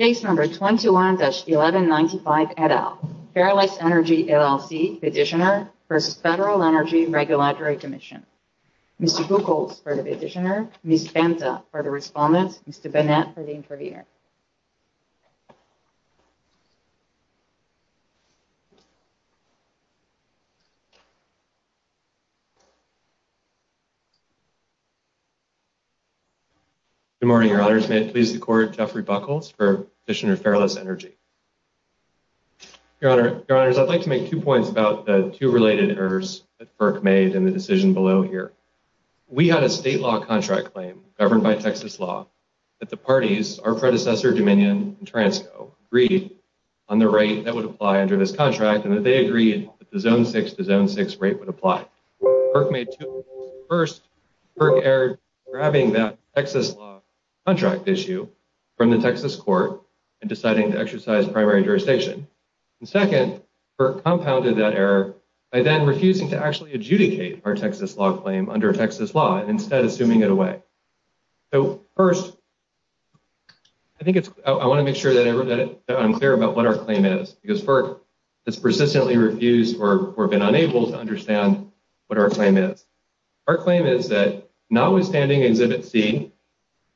Case number 221-1195 et al. Ferriless Energy, LLC, petitioner for the Federal Energy Regulatory Commission. Mr. Buchholz for the petitioner. Ms. Bensa for the respondent. Mr. Bonnet for the intervener. Good morning, your honors. May it please the court, Jeffrey Buchholz for petitioner of Ferriless Energy. Your honors, I'd like to make two points about the two related errors that FERC made in the decision below here. We had a state law contract claim governed by Texas law that the parties, our predecessor, Dominion and Transco, agreed on the rate that would apply under this contract and that they agreed that the zone six to zone six rate would apply. FERC made two errors. First, FERC erred grabbing that Texas law contract issue from the Texas court and deciding to exercise primary jurisdiction. And second, FERC compounded that error by then refusing to actually adjudicate our Texas law claim instead of assuming it away. So first, I want to make sure that I'm clear about what our claim is, because FERC has persistently refused or been unable to understand what our claim is. Our claim is that notwithstanding Exhibit C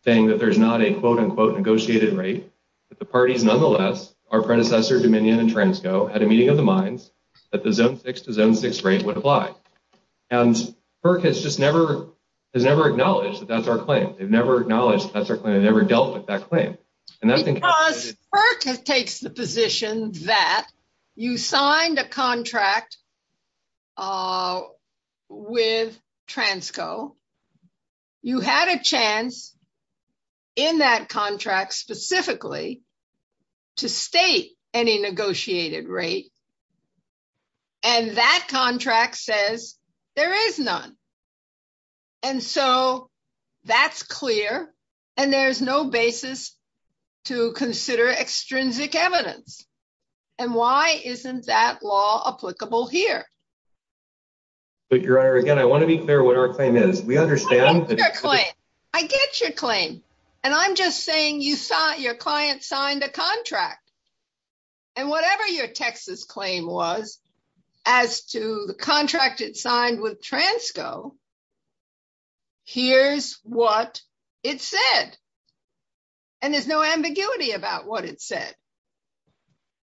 saying that there's not a quote unquote negotiated rate, that the parties nonetheless, our predecessor Dominion and Transco, had a rate would apply. And FERC has just never, has never acknowledged that that's our claim. They've never acknowledged that's our claim. They've never dealt with that claim. FERC takes the position that you signed a contract with Transco, you had a chance in that contract specifically to state any negotiated rate. And that contract says there is none. And so that's clear. And there's no basis to consider extrinsic evidence. And why isn't that law applicable here? But Your Honor, again, I want to be clear what our claim is. We understand that- I get your claim. And I'm just saying you saw your client signed a contract. And whatever your Texas claim was, as to the contract it signed with Transco, here's what it said. And there's no ambiguity about what it said.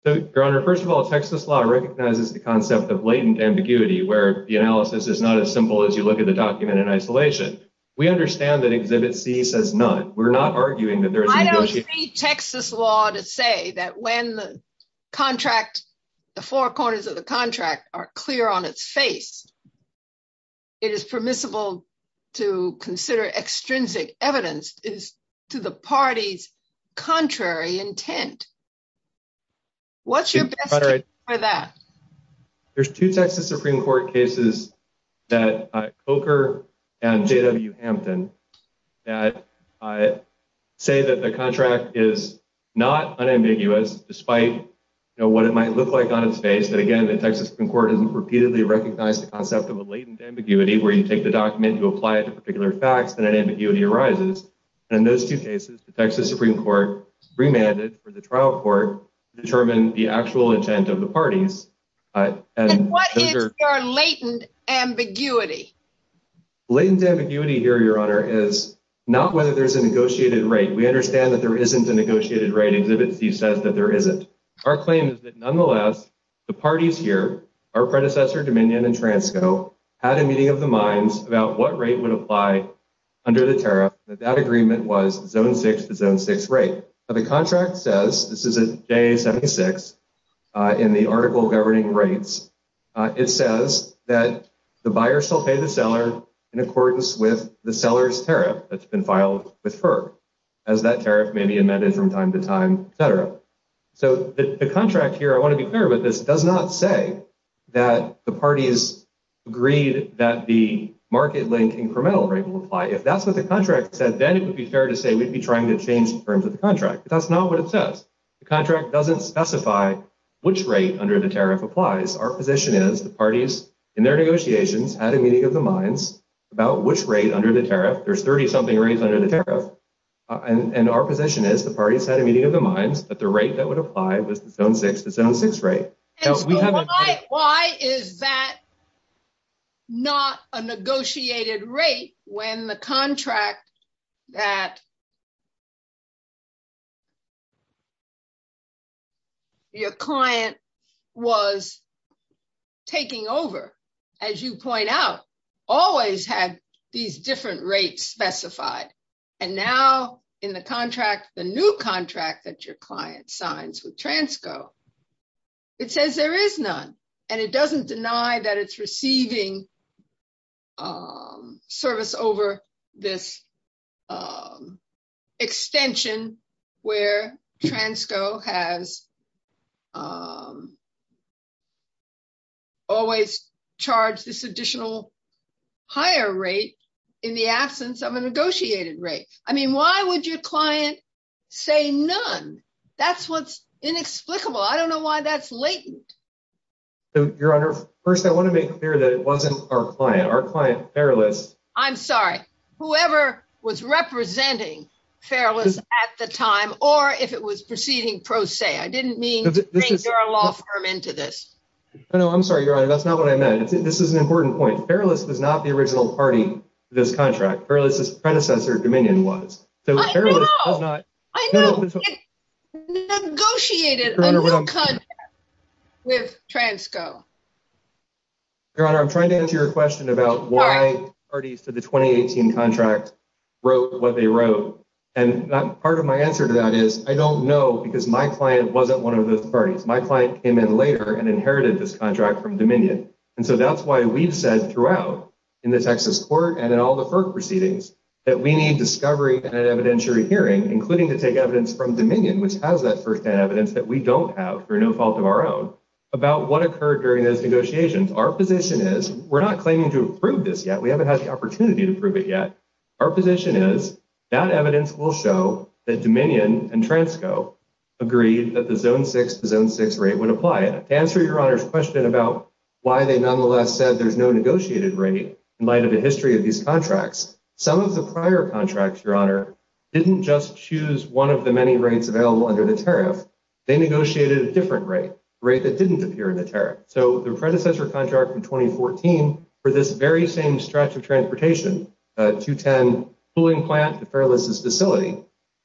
So, Your Honor, first of all, Texas law recognizes the concept of latent ambiguity, where the analysis is not as simple as you look at the document in isolation. We understand that Exhibit C says none. We're not arguing that there's- I don't see Texas law to say that when the contract, the four corners of the contract are clear on its face, it is permissible to consider extrinsic evidence is to the party's intent. What's your- Judge Frederick, there's two Texas Supreme Court cases that Coker and J.W. Hampton that say that the contract is not unambiguous, despite what it might look like on its face. But again, the Texas Supreme Court has repeatedly recognized the concept of a latent ambiguity, where you take the document, you apply it to particular facts, and that ambiguity arises. And those two cases, the Texas Supreme Court remanded for the trial court to determine the actual intent of the parties. And- What is your latent ambiguity? Latent ambiguity here, Your Honor, is not whether there's a negotiated rate. We understand that there isn't a negotiated rate. Exhibit C says that there isn't. Our claim is that nonetheless, the parties here, our predecessor, Dominion and Transco, had a meeting of the minds about what rate would apply under the tariff, that that agreement was zone six to zone six rate. But the contract says, this is in day 76, in the article governing rates, it says that the buyer shall pay the seller in accordance with the seller's tariff that's been filed with FERC, as that tariff may be amended from time to time, et cetera. So the contract here, I want to be clear with this, does not say that the parties agreed that the market link incremental rate will apply. If that's what the contract said, then it would be fair to say we'd be trying to change the terms of the contract, but that's not what it says. The contract doesn't specify which rate under the tariff applies. Our position is the parties, in their negotiations, had a meeting of the minds about which rate under the tariff, there's 30 something rates under the tariff. And our position is the parties had a meeting of the minds that the rate that applied was zone six to zone six rate. Why is that not a negotiated rate when the contract that your client was taking over, as you point out, always had these different rates specified. And now in the contract, the new contract that your client signs with Transco, it says there is none. And it doesn't deny that it's receiving service over this extension where Transco has always charged this additional higher rate in the absence of a negotiated rate. I mean, why would your client say none? That's what's inexplicable. I don't know why that's latent. So your honor, first, I want to make clear that it wasn't our client, our client, whoever was representing Fairless at the time, or if it was proceeding pro se. I didn't mean into this. No, I'm sorry, your honor. That's not what I meant. This is an important point. Fairless is not the original party to this contract. Fairless's predecessor, Dominion, was negotiated with Transco. Your honor, I'm trying to answer your question about why parties to the 2018 contract wrote what they wrote. And part of my answer to that is I don't know because my client wasn't one of the parties. My client came in later and inherited this contract from Dominion. And so that's why we've said throughout in the Texas court and in all the HERC proceedings that we need discovery and an evidentiary hearing, including to take evidence from Dominion, which has that firsthand evidence that we don't have for no fault of our own, about what occurred during those negotiations. Our position is we're not claiming to approve this yet. We haven't had the opportunity to prove it yet. Our position is that evidence will show that Dominion and Transco agreed that the zone six to zone six rate would apply it. To answer your honor's question about why they nonetheless said there's no negotiated rate in light of the history of these contracts, some of the prior contracts, your honor, didn't just choose one of the many rates available under the tariff. They negotiated a different rate, a rate that transportation, 210, pooling plant to fareless facility,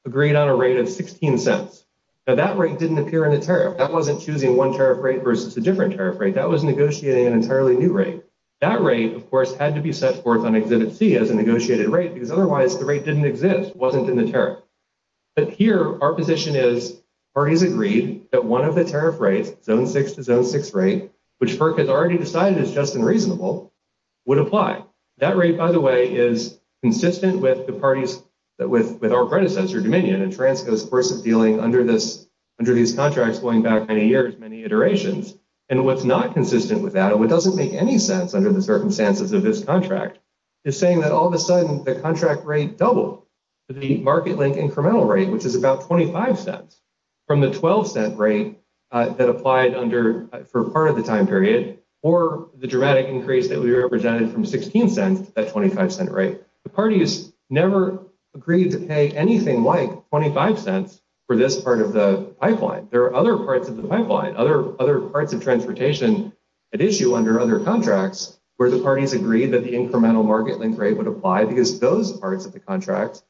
agreed on a rate of 16 cents. Now that rate didn't appear in the tariff. That wasn't choosing one tariff rate versus a different tariff rate. That was negotiating an entirely new rate. That rate, of course, had to be set forth on exhibit C as a negotiated rate because otherwise the rate didn't exist, wasn't in the tariff. But here our position is parties agreed that one of the tariff rates, zone six to zone six rate, which FERC has already decided is just and reasonable, would apply. That rate, by the way, is consistent with our predecessor, Dominion, and Transco's course of dealing under these contracts going back many years, many iterations. And what's not consistent with that, and what doesn't make any sense under the circumstances of this contract, is saying that all of a sudden the contract rate doubled to the market link incremental rate, which is about 25 cents from the 12 cent rate that applied for part of the time period, or the dramatic increase that we represented from 16 cents at 25 cent rate. The parties never agreed to pay anything like 25 cents for this part of the pipeline. There are other parts of the pipeline, other parts of transportation at issue under other contracts where the parties agreed that the incremental market link rate would apply because those parts of the contract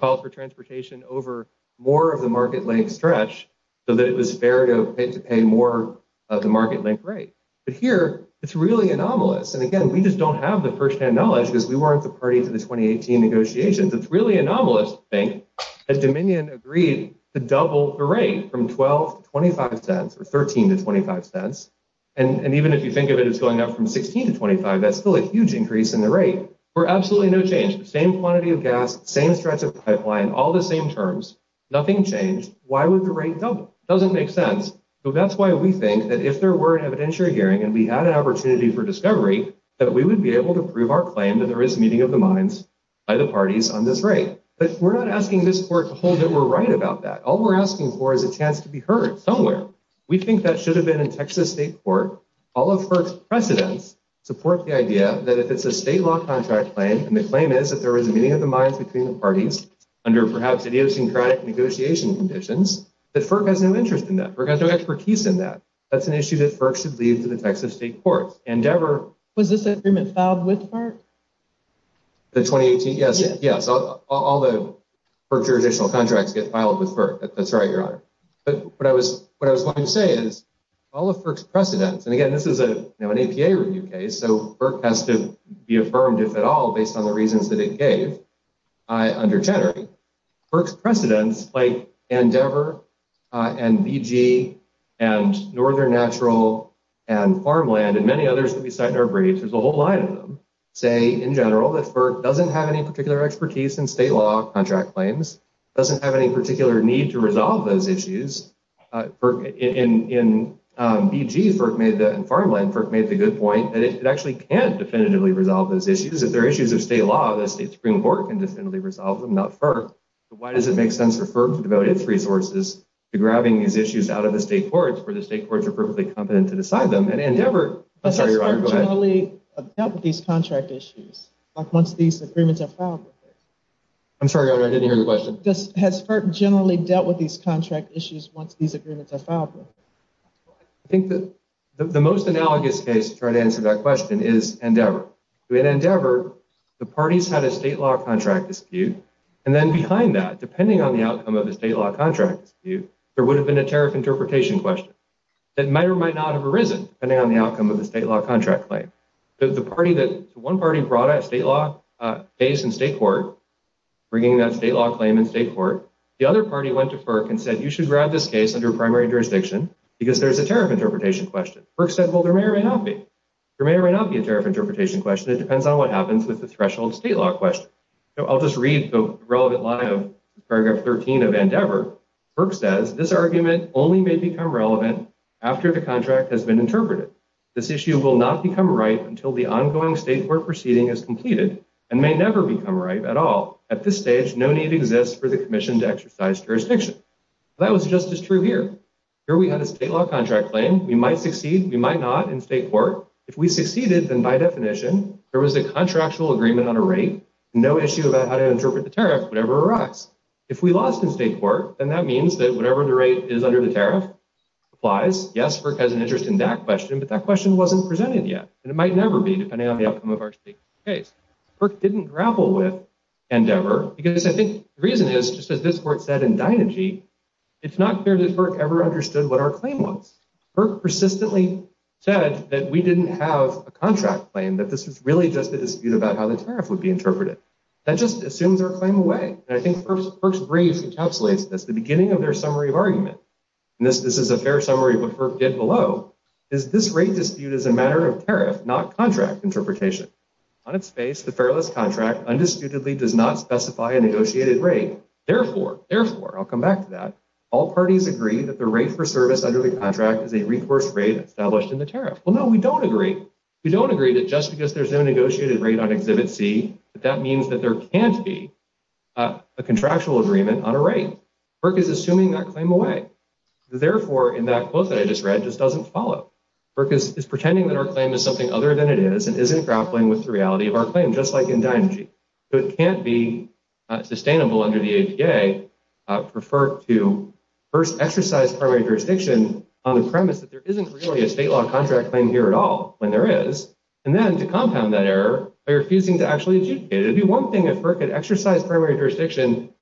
call for transportation over more of the market link stretch so that it is fair to pay more of the market link rate. But here, it's really anomalous. And again, we just don't have the first-hand knowledge because we weren't the party for the 2018 negotiations. It's really anomalous to think that Dominion agreed to double the rate from 12 to 25 cents, or 13 to 25 cents. And even if you think of it as going up from 16 to 25, that's still a huge increase in the rate for absolutely no change. The same quantity of gas, same stretch of pipeline, all the same terms, nothing changed. Why would the rate double? It doesn't make sense. So that's why we think that if there were an evidentiary hearing and we had an opportunity for discovery, that we would be able to prove our claim that there is meeting of the minds by the parties on this rate. But we're not asking this court to hold that we're right about that. All we're asking for is a chance to be heard somewhere. We think that should have been in Texas State Court. All of her precedents support the idea that if it's a state law contract claim, and the claim is that there was a meeting of the minds between the parties under perhaps idiosyncratic negotiation conditions, that FERC has no interest in that. FERC has no expertise in that. That's an issue that FERC should leave to the Texas State Court. Endeavor- Was this agreement filed with FERC? The 2018? Yes. Yes. All the FERC jurisdictional contracts get filed with FERC. That's right, Your Honor. But what I was wanting to say is all of FERC's precedents, and again, this is an APA review case, so FERC has to be affirmed, if at all, based on the reasons that it gave under Chenery. FERC's precedents, like Endeavor, and BG, and Northern Natural, and Farmland, and many others that we cite in our briefs, there's a whole line of them, say in general that FERC doesn't have any particular expertise in state law contract claims, doesn't have any particular need to resolve those issues. In BG, FERC made that, in Farmland, FERC made the good point that it actually can definitively resolve those issues. If they're issues of state law, the state Supreme Court can definitively resolve them, not FERC. But why does it make sense for FERC to devote its resources to grabbing these issues out of the state courts, where the state courts are perfectly competent to decide them? And Endeavor- I'm sorry, Your Honor, go ahead. Has FERC generally dealt with these contract issues once these agreements are filed with them? I'm sorry, Your Honor, I didn't hear your question. Has FERC generally dealt with these contract issues once these agreements are filed with them? I think the most analogous case to try to answer that question is Endeavor. In Endeavor, the parties had a state law contract dispute, and then behind that, depending on the outcome of the state law contract dispute, there would have been a tariff interpretation question that might or might not have arisen, depending on the outcome of the state law contract claim. So the party that- so one party brought a state law case in state court. The other party went to FERC and said, you should grab this case under primary jurisdiction because there's a tariff interpretation question. FERC said, well, there may or may not be. There may or may not be a tariff interpretation question. It depends on what happens with the threshold state law question. So I'll just read the relevant line of paragraph 13 of Endeavor. FERC says, this argument only may become relevant after the contract has been interpreted. This issue will not become ripe until the ongoing state court proceeding is completed and may never become ripe at all. At this stage, no need exists for the commission to exercise jurisdiction. That was just as true here. Here we had a state law contract claim. We might succeed. We might not in state court. If we succeeded, then by definition, there was a contractual agreement on a rate, no issue about how to interpret the tariff whenever it arrives. If we lost in state court, then that means that whatever the rate is under the tariff applies. Yes, FERC has an interest in that question, but that question wasn't presented yet and it might never be depending on the outcome of our state court case. FERC didn't grapple with Endeavor because I think the reason is, just as this court said in Dynagy, it's not clear that FERC ever understood what our claim was. FERC persistently said that we didn't have a contract claim, that this is really just a dispute about how the tariff would be interpreted. That just assumes our claim away. And I think FERC's brief encapsulates this, the beginning of their summary of arguments, and this is a fair summary of what FERC did below, is this rate dispute is a matter of tariff, not contract interpretation. On its face, the fareless contract undisputedly does not specify a negotiated rate. Therefore, therefore, I'll come back to that, all parties agree that the rate for service under the contract is a reinforced rate established in the tariff. Well, no, we don't agree. We don't agree that just because there's no negotiated rate on exhibit C, that that means that there can't be a contractual agreement on a rate. FERC is assuming that claim away. Therefore, in that quote that I just read, it just doesn't follow. FERC is pretending that our claim is something other than it is, and isn't grappling with the reality of our claim, just like in Dianagy. So it can't be sustainable under the APA for FERC to first exercise primary jurisdiction on the premise that there isn't really a state law contract claim here at all, and there is. And then to compound that error, they're refusing to actually adjudicate it. If the one thing that FERC could exercise primary jurisdiction,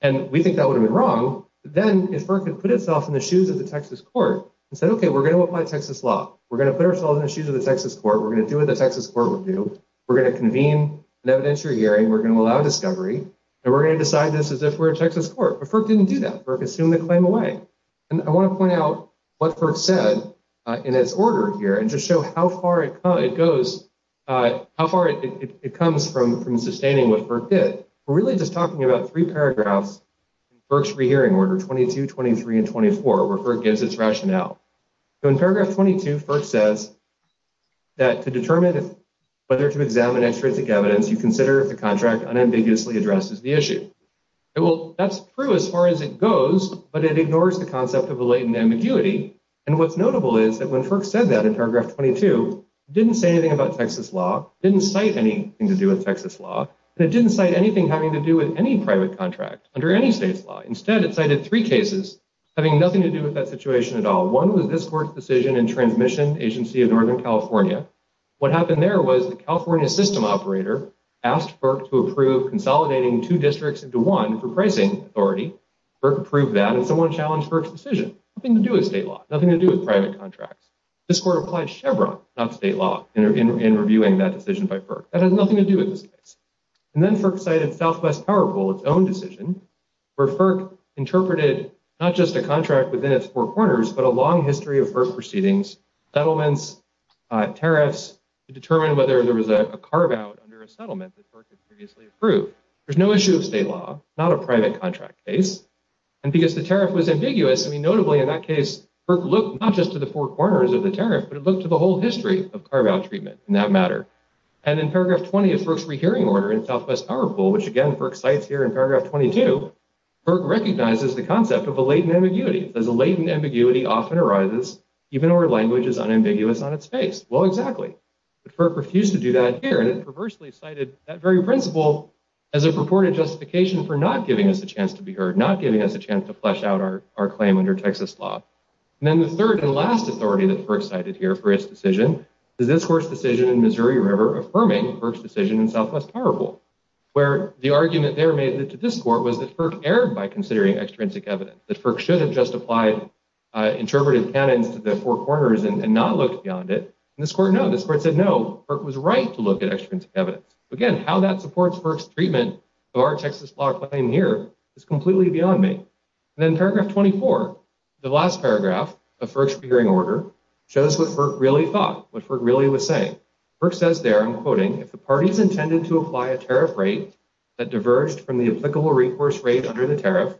and we think that would be wrong, then if FERC could put itself in the shoes of the Texas court and said, okay, we're going to apply Texas law. We're going to put ourselves in the shoes of the Texas court. We're going to do what the Texas court would do. We're going to convene an evidence-free hearing. We're going to allow discovery, and we're going to decide this as if we're a Texas court. But FERC didn't do that. FERC assumed the claim away. And I want to point out what FERC said in its order here, and just show how far it comes from sustaining what FERC did. We're really just talking about three paragraphs in FERC's free hearing order 22, 23, and 24, where FERC gives its rationale. So in paragraph 22, FERC says that to determine whether to examine extrinsic evidence, you consider if the contract unambiguously addresses the issue. That's true as far as it goes, but it ignores the concept of the latent ambiguity. And what's notable is that when FERC said that in paragraph 22, it didn't say anything about Texas law, didn't cite anything to do with under any state's law. Instead, it cited three cases having nothing to do with that situation at all. One was this court's decision in Transmission Agency of Northern California. What happened there was the California system operator asked FERC to approve consolidating two districts into one for pricing authority. FERC approved that, and so it challenged FERC's decision. Nothing to do with state law. Nothing to do with private contracts. This court applied Chevron, not state law, in reviewing that decision by FERC. That has nothing to do with this case. And then FERC cited Southwest Powerful, its own decision, where FERC interpreted not just a contract within its four corners, but a long history of FERC proceedings, settlements, tariffs, to determine whether there was a carve-out under a settlement that FERC had previously approved. There's no issue with state law, not a private contract case. And because the tariff was ambiguous, I mean, notably in that case, FERC looked not just to the four corners of the tariff, but it looked to the whole history of carve-out treatment in that matter. And in paragraph 20, FERC's rehearing order in Southwest Powerful, which, again, FERC cites here in paragraph 22, FERC recognizes the concept of a latent ambiguity, as a latent ambiguity often arises even when language is unambiguous on its face. Well, exactly. But FERC refused to do that here, and it perversely cited that very principle as a purported justification for not giving us a chance to be heard, not giving us a chance to flesh out our claim under Texas law. And then the third and last authority that FERC cited here for its decision to this court's decision in Missouri affirming FERC's decision in Southwest Powerful, where the argument there made to this court was that FERC erred by considering extrinsic evidence, that FERC should have justified interpretive canon to the four corners and not looked beyond it. And this court no, this court said no, FERC was right to look at extrinsic evidence. Again, how that supports FERC's treatment of our Texas law claim here is completely beyond me. And then paragraph 24, the last paragraph of FERC's hearing order shows what FERC really thought, what FERC really was saying. FERC says there, I'm quoting, if the party's intended to apply a tariff rate that diverged from the applicable recourse rate under the tariff,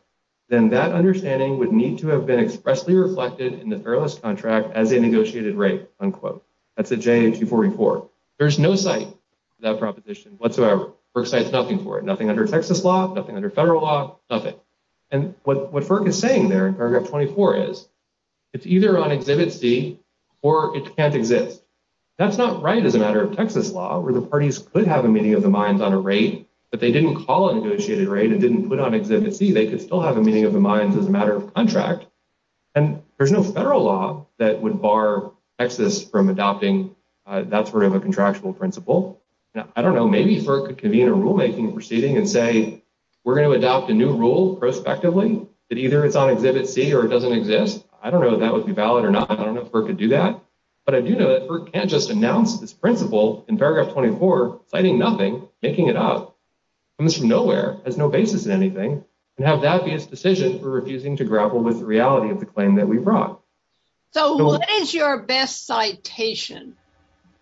then that understanding would need to have been expressly reflected in the fairless contract as a negotiated rate, unquote. That's a J-84 report. There's no cite for that proposition whatsoever. FERC cites nothing for it, nothing under Texas law, nothing under federal law, nothing. And what FERC is saying there in paragraph 24 is, it's either on Exhibit C or it can't exist. That's not right as a matter of Texas law, where the parties could have a meeting of the minds on a rate, but they didn't call it a negotiated rate and didn't put it on Exhibit C, they could still have a meeting of the minds as a matter of contract. And there's no federal law that would bar Texas from adopting that sort of a contractual principle. I don't know, maybe FERC could convene a rulemaking proceeding and say, we're going to adopt a new rule prospectively that either it's on Exhibit C or it doesn't exist. I don't know if that would be valid or not. I don't know if FERC could do that, but I do know that FERC can't just announce this principle in paragraph 24, citing nothing, making it up, comes from nowhere, has no basis in anything, and have that be a decision for refusing to grapple with the reality of the claim that we brought. So what is your best citation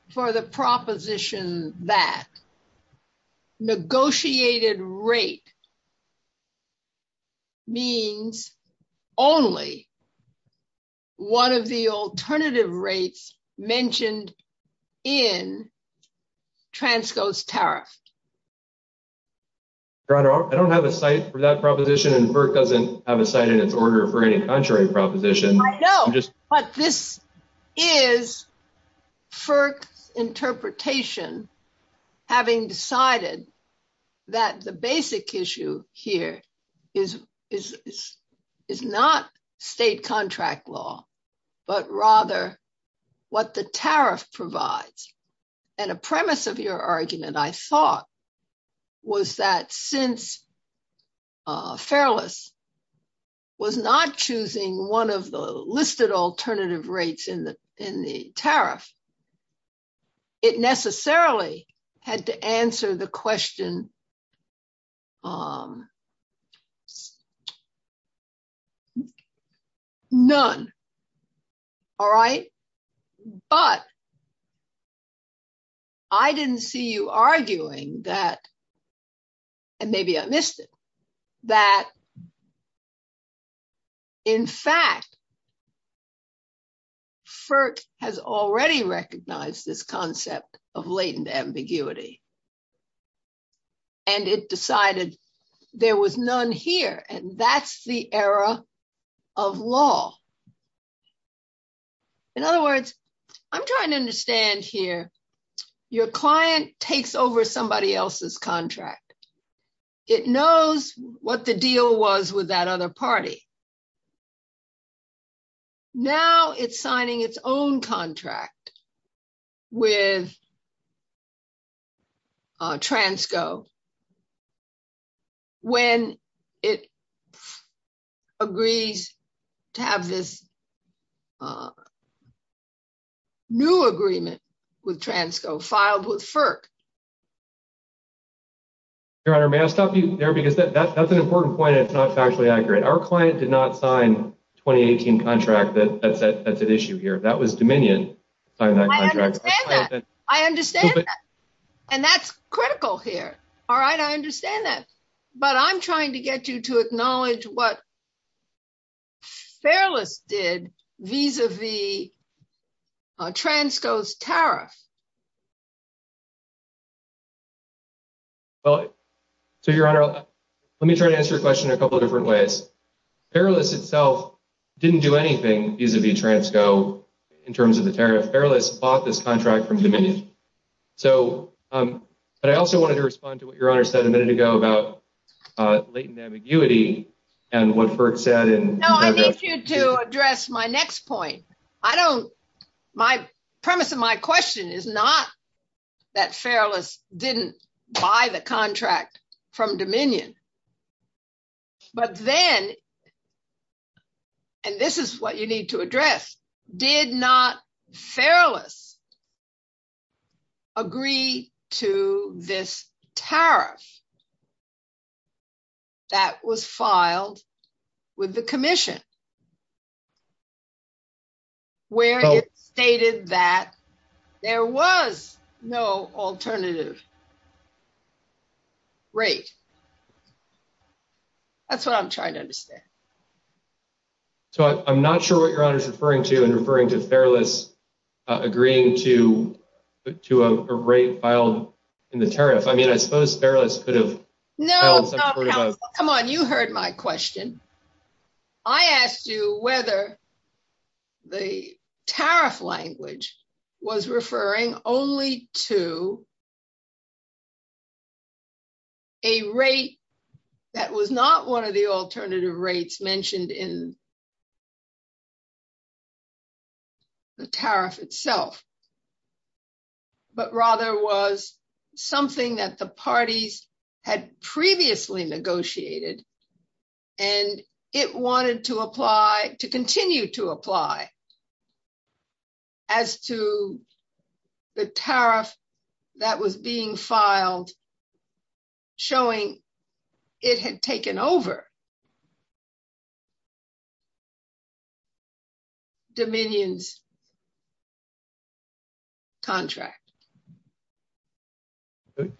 for the proposition that negotiated rate means only one of the alternative rates mentioned in Transco's tariff? Your Honor, I don't have a cite for that proposition and FERC doesn't have a cite in its order for any contrary proposition. I know, but this is FERC interpretation, having decided that the basic issue here is not state contract law, but rather what the tariff provides. And a premise of your argument, I thought, was that since Fairless was not choosing one of the listed alternative rates in the tariff, it necessarily had to answer the question, none. All right? But I didn't see you arguing that, and maybe I missed it, that, in fact, FERC has already recognized this concept of latent ambiguity, and it decided there was none here, and that's the era of law. In other words, I'm trying to understand here, your client takes over somebody else's contract. It knows what the deal was with that other party. Now it's signing its own contract with a new agreement with Transco, filed with FERC. Your Honor, may I stop you there? Because that's an important point, and it's not factually accurate. Our client did not sign a 2018 contract that sets that issue here. That was Dominion signing that contract. I understand that. I understand that. And that's critical here. All right? I understand that. But I'm trying to get you to acknowledge what Fairless did vis-a-vis Transco's tariff. Well, so, Your Honor, let me try to answer your question in a couple different ways. Fairless itself didn't do anything vis-a-vis Transco in terms of the tariff. Fairless bought this contract from Dominion. But I also wanted to respond to what Your Honor said a minute ago about latent ambiguity and what FERC said in— No, I need you to address my next point. I don't— my premise of my question is not that Fairless didn't buy the contract from Dominion. But then—and this is what you need to address—did not Fairless agree to this tariff? That was filed with the Commission, where it stated that there was no alternative rate. That's what I'm trying to understand. So, I'm not sure what Your Honor is referring to in referring to Fairless agreeing to a rate filed in the tariff. I mean, I suppose Fairless could have— No. Come on. You heard my question. I asked you whether the tariff language was referring only to a rate that was not one of the alternative rates mentioned in the—the tariff itself, but rather was something that the parties had previously negotiated, and it wanted to apply—to continue to apply as to the tariff that was being filed, showing it had taken over Dominion's contract.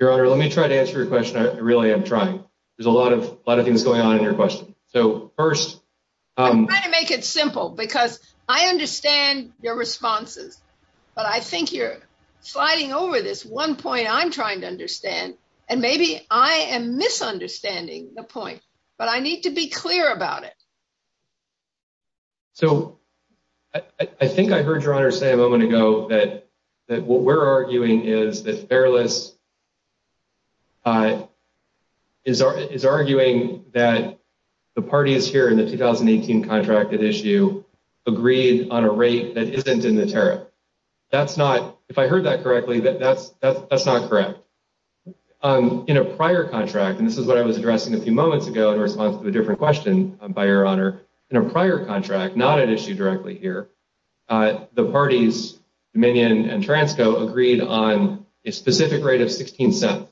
Your Honor, let me try to answer your question. I really am trying. There's a lot of—a lot of things going on in your question. So, first— I'm trying to make it simple, because I understand your responses, but I think you're sliding over this one point I'm trying to understand, and maybe I am misunderstanding the point, but I need to be clear about it. So, I think I heard Your Honor say a moment ago that what we're arguing is that Fairless is arguing that the parties here in the 2018 contracted issue agreed on a rate that isn't in the tariff. That's not—if I heard that correctly, that's not correct. In a prior contract—and this is what I was addressing a few moments ago in response to a different question by Your Honor—in a prior contract, not an issue directly here, the parties Dominion and Transco agreed on a specific rate of $0.16.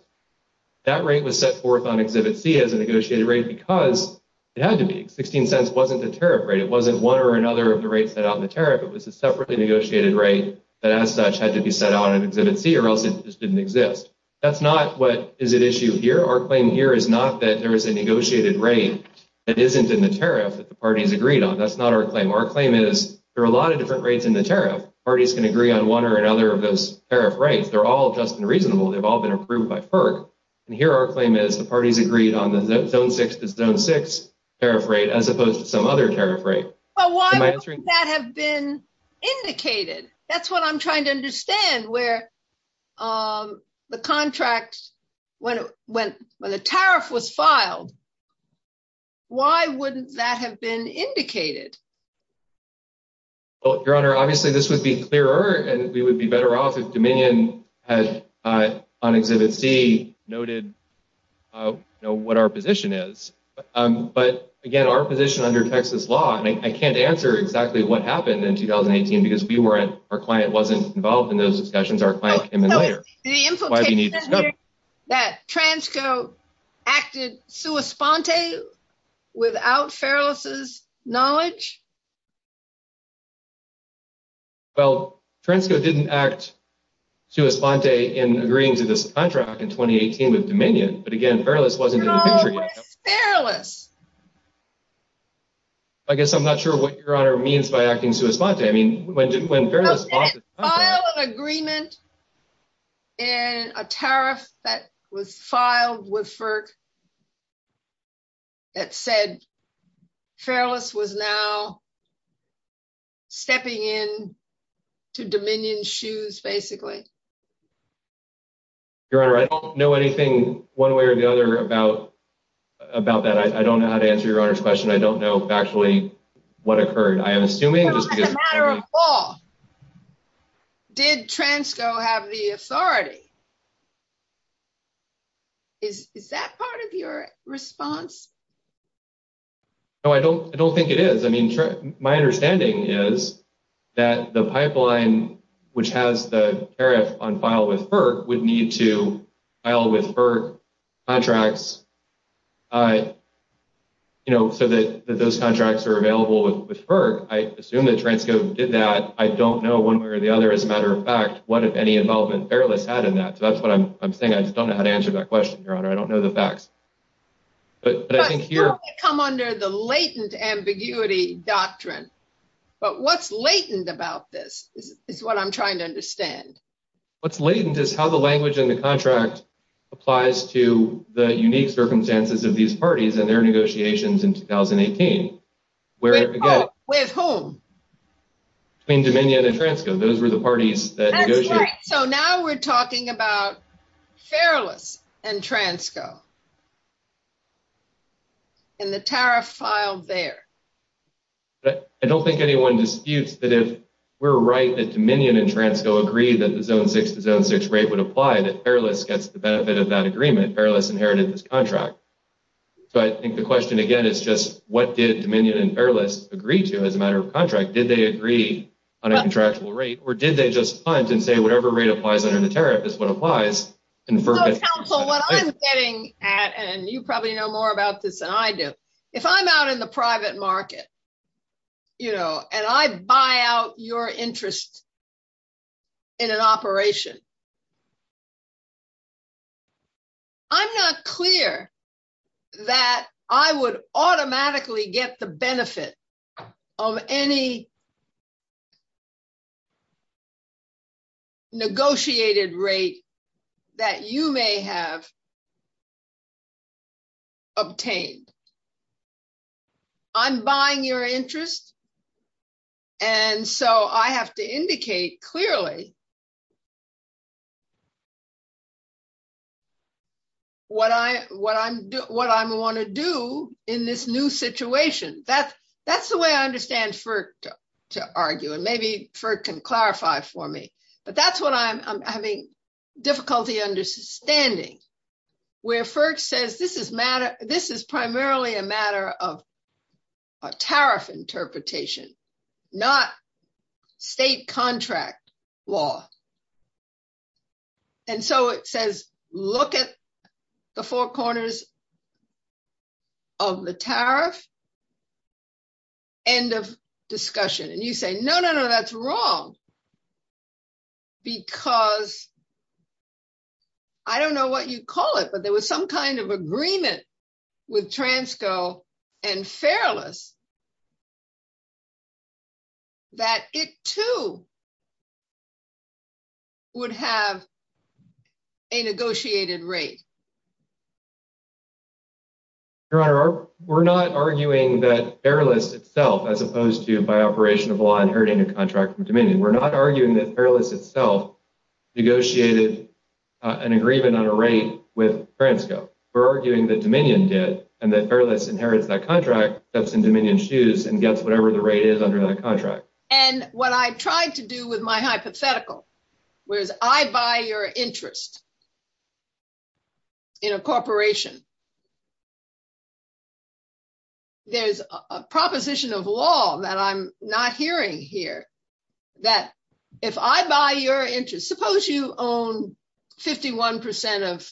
That rate was set forth on Exhibit C as a negotiated rate because it had to be. $0.16 wasn't the tariff rate. It wasn't one or another of the rates set out in the tariff. It was a separately negotiated rate that, as such, had to be set out in Exhibit C or else it just didn't exist. That's not what is at issue here. Our claim here is not that there is a negotiated rate that isn't in the tariff that the parties agreed on. That's not our claim. Our claim is there are a lot of different rates in the tariff. Parties can agree on one or another of those tariff rates. They're all just and reasonable. They've all been approved by PERC, and here our claim is the parties agreed on the $0.06 to $0.06 tariff rate as opposed to some other tariff rate. But why wouldn't that have been indicated? That's what I'm trying to understand where the contracts—when the tariff was filed, why wouldn't that have been indicated? Well, Your Honor, obviously this would be clearer, and we would be better off if Dominion had, on Exhibit C, noted what our position is. But again, our position under Texas law—I mean, I can't answer exactly what happened in 2018 because we weren't—our client wasn't involved in those discussions. Our client came in later. So the implication is that Transco acted sua sponte without Feralis' knowledge? Well, Transco didn't act sua sponte in agreeing to this contract in 2018 with Dominion, but again, Feralis wasn't— Your Honor, where's Feralis? I guess I'm not sure what Your Honor means by acting sua sponte. I mean, when Feralis— A file of agreement and a tariff that was filed with FERC that said Feralis was now stepping in to Dominion's shoes, basically. Your Honor, I don't know anything one way or the other about that. I don't know how to answer Your Honor's question. I don't know actually what occurred. I am assuming— As a matter of law, did Transco have the authority? Is that part of your response? No, I don't think it is. I mean, my understanding is that the pipeline which has the tariff on file with FERC would need to file with FERC contracts so that those contracts are available with FERC. I assume that Transco did that. I don't know one way or the other as a matter of fact what, if any, involvement Feralis had in that. So that's what I'm saying. I just don't know how to answer that question, Your Honor. I don't know the facts. But I think here— But you only come under the latent ambiguity doctrine. But what's latent about this is what I'm trying to understand. What's latent is how the language in the contract applies to the unique circumstances of these where— Oh, with whom? Between Dominion and Transco. Those were the parties that negotiated. So now we're talking about Feralis and Transco. And the tariff filed there. I don't think anyone disputes that if we're right that Dominion and Transco agree that the zone 6 to zone 6 rate would apply, that Feralis gets the benefit of that agreement. Feralis inherited this contract. So I think the question, again, is just what did Dominion and Feralis agree to as a matter of contract? Did they agree on a contractual rate? Or did they just punt and say whatever rate applies under the tariff is what applies? Counsel, what I'm getting at, and you probably know more about this than I do, if I'm out in the private market and I buy out your interest in an operation, I'm not clear that I would automatically get the benefit of any negotiated rate that you may have obtained. I'm buying your interest. And so I have to indicate clearly what I'm going to do in this new situation. That's the way I understand FERC to argue. And maybe FERC can clarify for me. But that's what I'm having difficulty understanding, where FERC says this is primarily a matter of a tariff interpretation, not state contract. Law. And so it says, look at the four corners of the tariff, end of discussion. And you say, no, no, no, that's wrong. Because I don't know what you'd call it, but there was some kind of agreement with Transco and Feralis that it too would have a negotiated rate. Your Honor, we're not arguing that Feralis itself, as opposed to by operation of law inheriting a contract from Dominion. We're not arguing that Feralis itself negotiated an agreement on a rate with Transco. We're arguing that Dominion did and that Feralis inherited that contract that's in Dominion's shoes and gets whatever the rate is under that contract. And what I tried to do with my hypothetical was I buy your interest in a corporation. There's a proposition of law that I'm not hearing here that if I buy your interest, suppose you own 51% of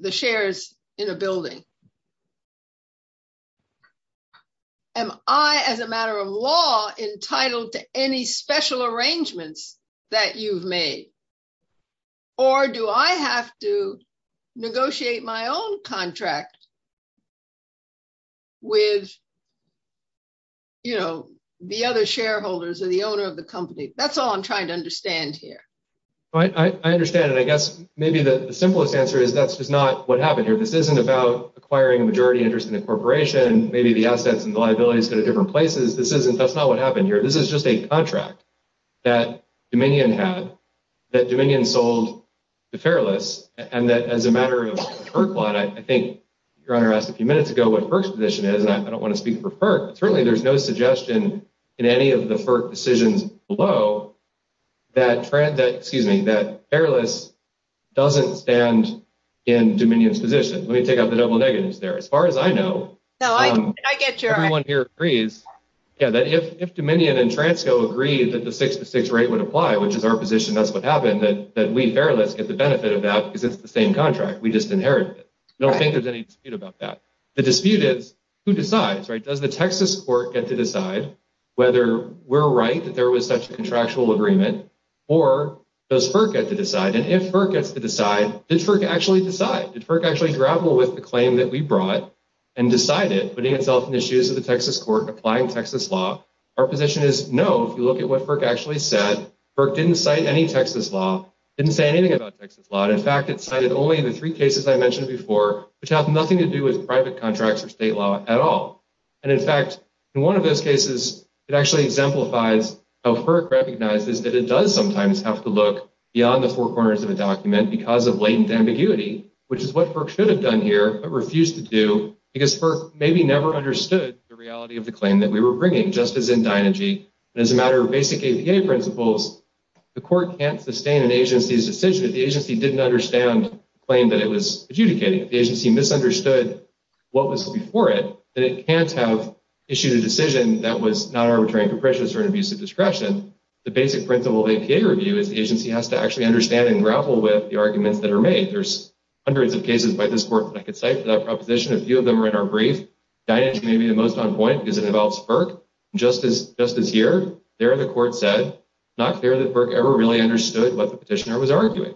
the shares in a building. Am I, as a matter of law, entitled to any special arrangements that you've made? Or do I have to negotiate my own contract with the other shareholders or the owner of the company? That's all I'm trying to understand here. Right. I understand. And I guess maybe the simplest answer is that's just not what happened here. This isn't about acquiring a majority interest in a corporation and maybe the assets and liabilities go to different places. That's not what happened here. This is just a contract that Dominion had, that Dominion sold to Feralis. And that as a matter of FERC law, I think Your Honor asked a few minutes ago what FERC's position is, and I don't want to speak for FERC, but certainly there's no suggestion in any of the FERC decisions below that Feralis doesn't stand in Dominion's position. Let me take out the double negatives there. As far as I know, everyone here agrees that if Dominion and Transco agree that the six-to-six rate would apply, which is our position, that's what happened, that we, Feralis, get the benefit of that because it's the same contract. We just inherited it. I don't think there's any dispute about that. The dispute is who decides, right? Does the Texas court get to decide whether we're right that there was such a contractual agreement, or does FERC get to decide? And if FERC gets to decide, did FERC actually decide? Did FERC actually grapple with the claim that we brought and decide it, putting itself in the shoes of the Texas court, applying Texas law? Our position is no. If you look at what FERC actually said, FERC didn't cite any Texas law, didn't say anything about Texas law. And in fact, it cited only the three cases I mentioned before, which have nothing to do with private contracts or state law at all. And in fact, in one of those cases, it actually exemplifies how FERC recognizes that it does sometimes have to look beyond the four corners of a document because of latent ambiguity, which is what FERC should have done here, but refused to do, because FERC maybe never understood the reality of the claim that we were bringing, just as in Dynegy. And as a matter of basic APA principles, the court can't sustain an agency's decision if the agency didn't understand the claim that it was adjudicating. The agency misunderstood what was before it, and it can't have issued a decision that was non-arbitrary and capricious or an abuse of discretion. The basic principle of APA review is the agency has to actually understand and grapple with the arguments that are made. There's hundreds of cases by this court that I could cite without proposition. A few of them are in our brief. Dynegy may be the most on point because it involves FERC. And just as here, there the court said, it's not fair that FERC ever really understood what the petitioner was arguing.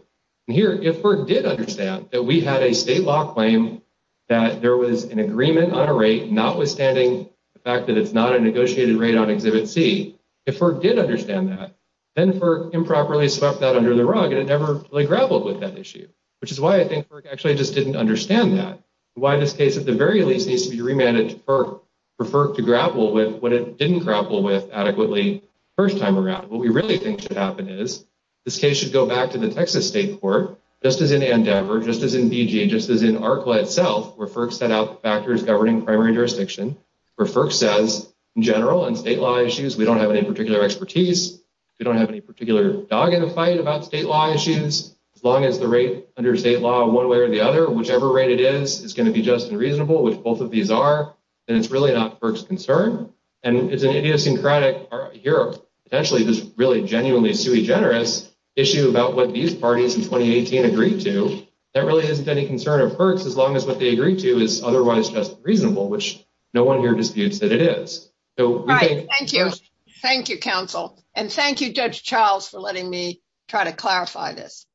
Here, if FERC did understand that we had a state law claim that there was an agreement on a rate, notwithstanding the fact that it's not a negotiated rate on exhibit C. If FERC did understand that, then FERC improperly swept that under the rug and it never really grappled with that issue, which is why I think FERC actually just didn't understand that. Why this case, at the very least, needs to be remanded to FERC for FERC to grapple with when it didn't grapple with adequately the first time around. What we really think should happen is this case should go back to the Texas state court, just as in Denver, just as in D.J., just as in ARCLA itself, where FERC set out factors governing primary jurisdiction, where FERC says, in general, on state law issues, we don't have any particular expertise. We don't have any particular dog in the fight about state law issues. As long as the rate under state law, one way or the other, whichever rate it is, it's going to be just and reasonable, which both of these are. And it's really not FERC's concern. And it's an idiosyncratic part here. Essentially, this really genuinely generates an issue about what these parties in 2018 agreed to. That really isn't any concern of FERC's, as long as what they agreed to is otherwise just reasonable, which no one here disputes that it is. Right. Thank you. Thank you, counsel. And thank you, Judge Charles, for letting me try to clarify this.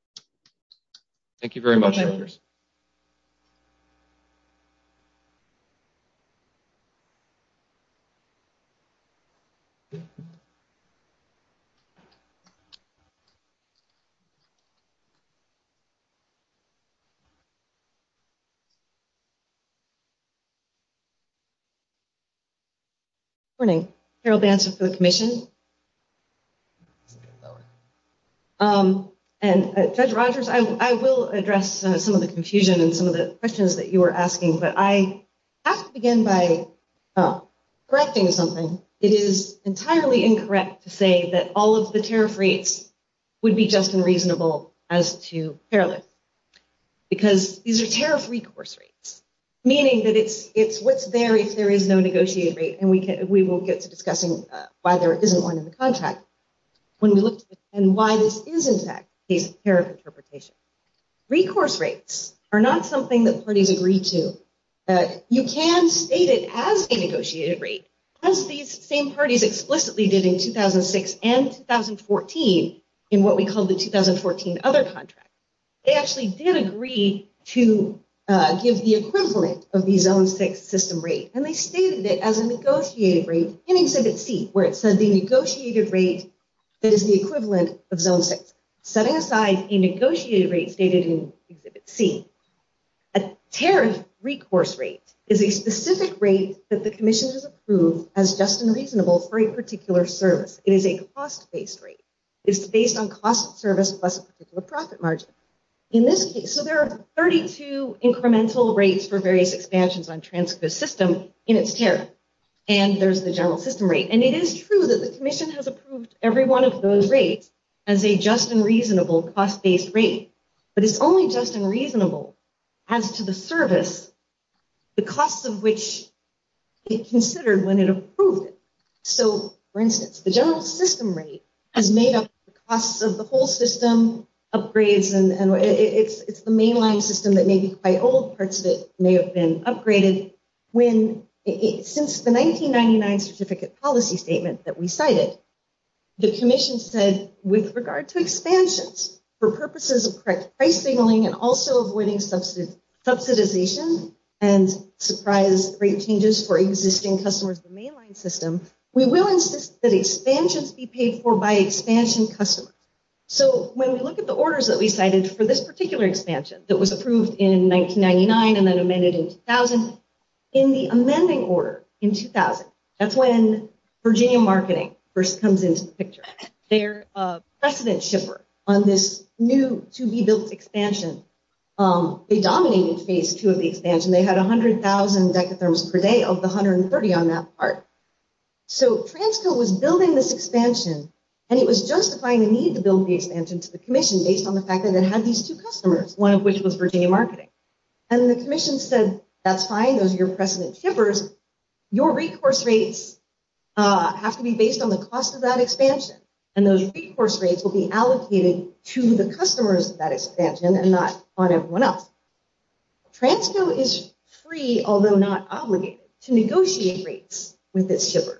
Thank you very much. Good morning. Harold Bantz with the Commission. And Judge Rogers, I will address some of the confusion and some of the questions that you were asking. But I have to begin by correcting something. It is entirely incorrect to say that all of the tariff rates would be just and reasonable as to parallel. Because these are tariff recourse rates, meaning that it's what's there if there is no negotiated rate. And we will explain why this is, in fact, a tariff interpretation. Recourse rates are not something that parties agree to. You can state it as a negotiated rate, as these same parties explicitly did in 2006 and 2014 in what we call the 2014 other contract. They actually did agree to give the equivalent of the Zone 6 system rate. And they stated it as a negotiated rate in Exhibit C, where it says a negotiated rate that is the equivalent of Zone 6. Setting aside a negotiated rate stated in Exhibit C, a tariff recourse rate is a specific rate that the Commission has approved as just and reasonable for a particular service. It is a cost-based rate. It's based on cost of service plus a particular profit margin. So there are 32 incremental rates for various expansions on a transgressive system in its tariff. And there's the general system rate. And it is true that the Commission has approved every one of those rates as a just and reasonable cost-based rate. But it's only just and reasonable as to the service, the cost of which is considered when it is approved. So, for instance, the general system rate is made up of the cost of the whole system, upgrades, and it's the mainline system that may be quite old. Parts of it may have been upgraded. Since the 1999 Certificate Policy Statement that we cited, the Commission said, with regard to expansions, for purposes of correct price signaling and also avoiding subsidization and surprise rate changes for existing customers in the mainline system, we will insist that the orders that we cited for this particular expansion that was approved in 1999 and then amended in 2000, in the amending order in 2000, that's when Virginia Marketing first comes into the picture. They're a precedent shipper on this new to-be-built expansion. They dominated Phase 2 of the expansion. They had 100,000 decatherms per day of the 130 on that part. So Transco was building this expansion, and it was justifying the need to build the expansion to the Commission based on the fact that it had these two customers, one of which was Virginia Marketing. And the Commission said, that's fine. Those are your precedent shippers. Your recourse rates have to be based on the cost of that expansion, and those recourse rates will be allocated to the customers of that expansion and not on everyone else. Transco is free, although not obligated, to negotiate rates with its shippers.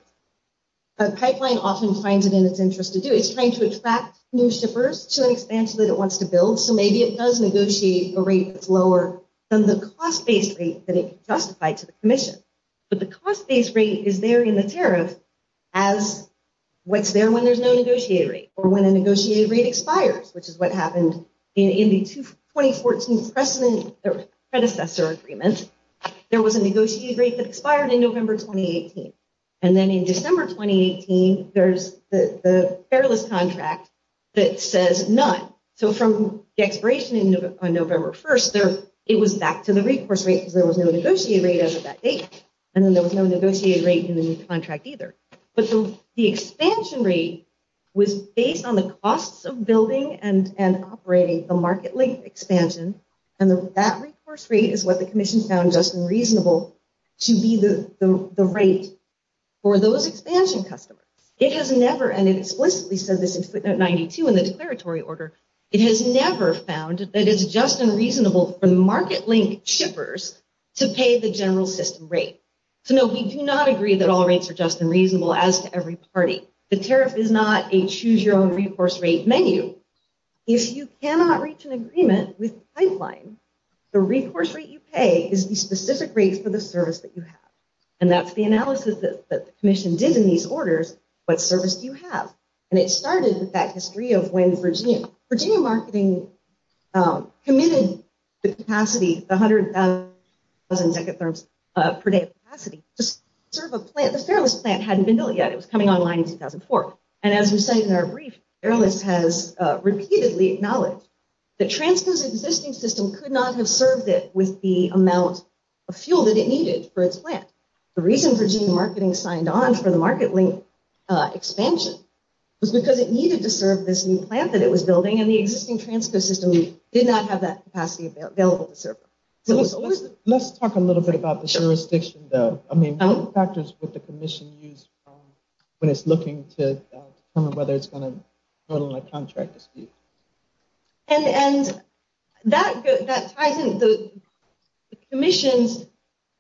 A pipeline often finds it in its interest to do it. It's trying to attract new shippers to an expansion that it wants to build. So maybe it does negotiate a rate that's lower than the cost-based rate that it can justify to the Commission. But the cost-based rate is there in the tariff as what's there when there's no negotiated rate or when a negotiated rate expires, which is what happened in the 2014 predecessor agreement. There was a negotiated rate that expired in November 2018. And then in December 2018, there's the Fairless contract that says none. So from the expiration on November 1st, it was back to the recourse rate because there was no negotiated rate at that date. And then there was no negotiated rate in the new contract either. But the expansion rate was based on the costs of building and operating the market-length expansion. And that recourse rate is what the Commission found just and reasonable to be the rate for those expansion customers. It has never, and it explicitly said this in footnote 92 in the declaratory order, it has never found that it's just and reasonable for market-length shippers to pay the general system rate. So no, we do not agree that all rates are just and reasonable as to every party. The tariff is not a choose-your-own-recourse-rate menu. If you cannot reach an agreement with pipelines, the recourse rate you pay is the specific rate for the service that you have. And that's the analysis that the Commission did in these orders, what service do you have? And it started with that history of when Virginia Marketing committed the capacity, the 100,000 decatherms per day capacity, just sort of a plan. The Fairless plan hadn't been built yet. It was coming online in 2004. And as we said in our brief, Fairless has repeatedly acknowledged that transfers existing system could not have served it with the amount of fuel that it needed for its plan. The reason Virginia Marketing signed on for the market-length expansion was because it needed to serve this new plant that it was building and the existing transfer system did not have that capacity available to serve. Let's talk a little bit about the jurisdiction though. I mean, what factors would the Commission use when it's looking to determine whether it's going to do that? I think the Commission's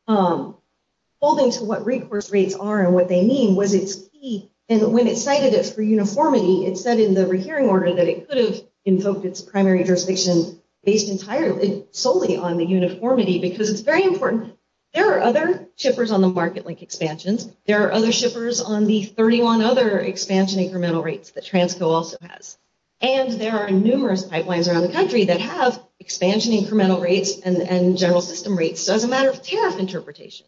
holding to what recourse rates are and what they mean was its key. And when it cited it for uniformity, it said in the recurring order that it could have invoked its primary jurisdiction based entirely solely on the uniformity because it's very important. There are other shippers on the market-length expansions. There are other shippers on the 31 other expansion incremental rates that Transco also has. And there are numerous pipelines around the country that have expansion incremental rates and general system rates as a matter of tariff interpretation.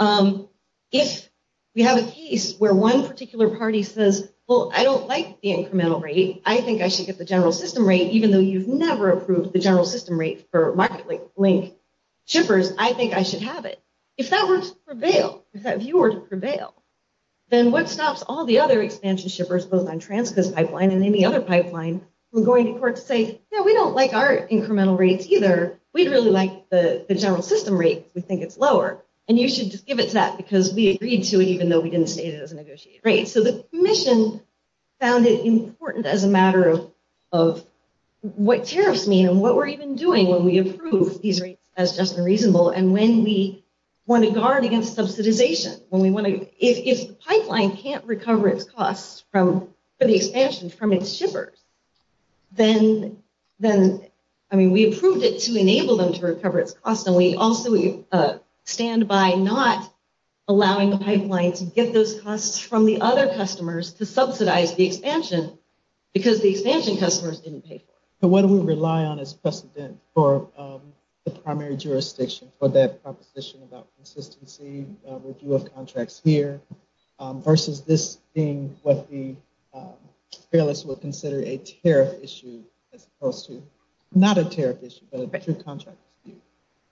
If you have a case where one particular party says, well, I don't like the incremental rate. I think I should get the general system rate even though you've never approved the general system rate for market-length shippers, I think I should have it. If that were to prevail, if that view were to prevail, then what stops all the other expansion shippers both on Transco's and any other pipeline from going to court to say, yeah, we don't like our incremental rates either. We'd really like the general system rate. We think it's lower. And you should just give it to that because we agreed to it even though we didn't state it as a negotiated rate. So the Commission found it important as a matter of what tariffs mean and what we're even doing when we approve these rates as just and reasonable. And when we want to guard against subsidization, if the pipeline can't recover its costs for the expansions from its shippers, I mean, we approved it to enable them to recover its costs and we also stand by not allowing the pipeline to get those costs from the other customers to subsidize the expansion because the expansion customers didn't take them. So what do we rely on as precedent for the primary jurisdiction for that proposition about consistency with U.S. contracts here versus this being what the Fairless would consider a tariff issue as opposed to, not a tariff issue, but a contract issue?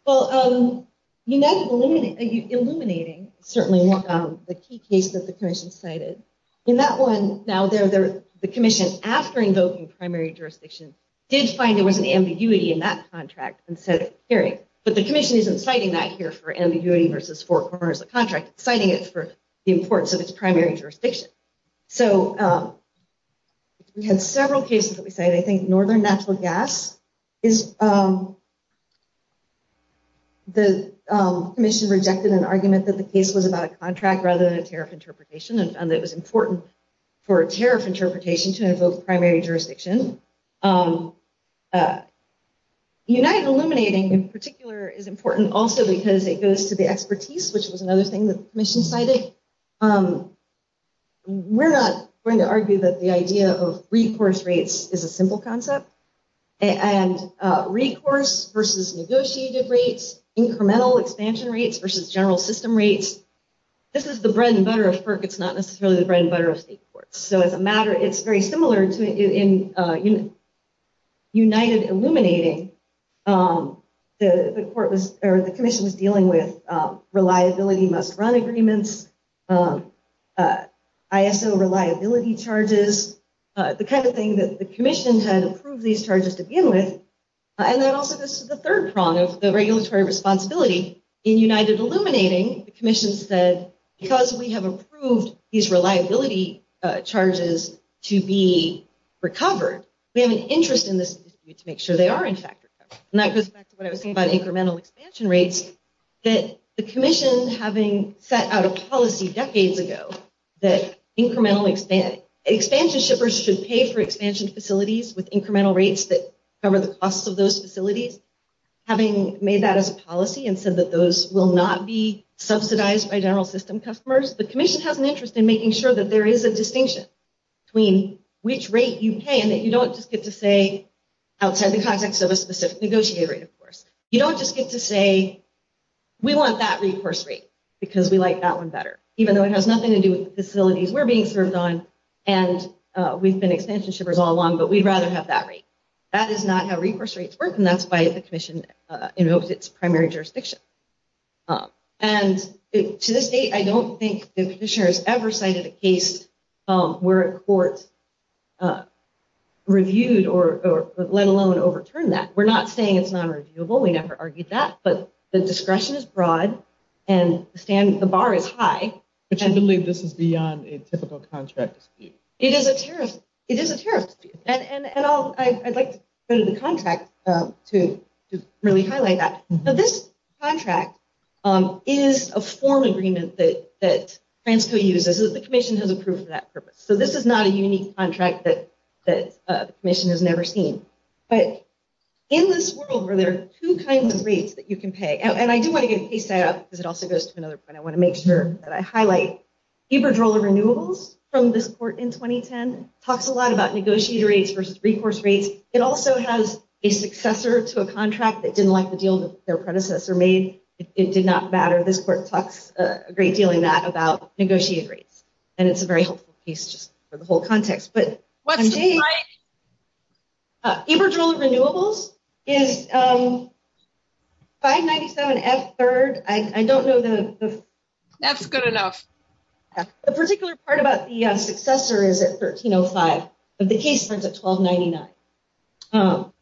Well, you mentioned illuminating, certainly, the key case that the Commission cited. In that one, now, the Commission, after invoking primary jurisdiction, did find there was an ambiguity in that contract and said, period. But the Commission isn't citing that here for ambiguity versus four corners of the contract. It's citing it for the importance of its primary jurisdiction. So we have several cases that we cited. I think Northern Natural Gas, the Commission rejected an argument that the case was about a contract rather than a tariff interpretation and found it was important for a tariff interpretation to invoke primary jurisdiction. The United Illuminating, in particular, is important also because it goes to the expertise, which is another thing the Commission cited. We're not going to argue that the idea of recourse rates is a simple concept. And recourse versus negotiated rates, incremental expansion rates versus general system rates, this is the bread and butter of FERC. It's not necessarily the bread and butter of state courts. So it's very similar in United Illuminating. The Commission was dealing with reliability must-run agreements, ISO reliability charges, the kind of thing that the Commission has approved these charges to begin with. And then also, this is the third prong of the regulatory responsibility. In United Illuminating, the Commission said, because we have approved these reliability charges to be recovered, we have an interest in this to make sure they are in fact recovered. And that goes back to what I was saying about incremental expansion rates, that the Commission, having set out a policy decades ago that expansion shippers should pay for expansion facilities with incremental rates that cover the cost of those facilities, having made that as a policy and said that those will not be subsidized by general system customers, the Commission has an interest in making sure that there is a distinction between which rate you pay and that you don't just get to say outside the context of a specific negotiated rate, of course. You don't just get to say, we want that recourse rate because we like that one better, even though it has nothing to do with facilities we're being served on and we've been expansion shippers all along, but we'd rather have that rate. That is not how recourse rates work and that's by the Commission in its primary jurisdiction. And to this date, I don't think the Petitioner has ever cited a case where a court reviewed or let alone overturned that. We're not saying it's non-reviewable, we never argued that, but the discretion is broad and the bar is high. Which I believe this is beyond a typical contract scheme. It is a sheriff. It is a sheriff. And I'd like to go to the contract to really highlight that. But this contract is a formal agreement that Transco uses, that the Commission has approved for that purpose. So this is not a unique contract that the Commission has never seen. But in this world where there are two kinds of rates that you can pay, and I do want to get case data because it also goes to another point, I want to make sure that I highlight Eberdrola Renewables from this court in 2010, talks a lot about negotiator rates versus recourse rates. It also has a successor to a contract that didn't like the deal that their predecessor made. It did not matter. This court talks a great deal in that about negotiated rates. And it's a very helpful piece for the whole context. But Eberdrola Renewables is 597F3rd. I don't know the... That's good enough. The particular part about the successor is at 1305, but the case was at 1299.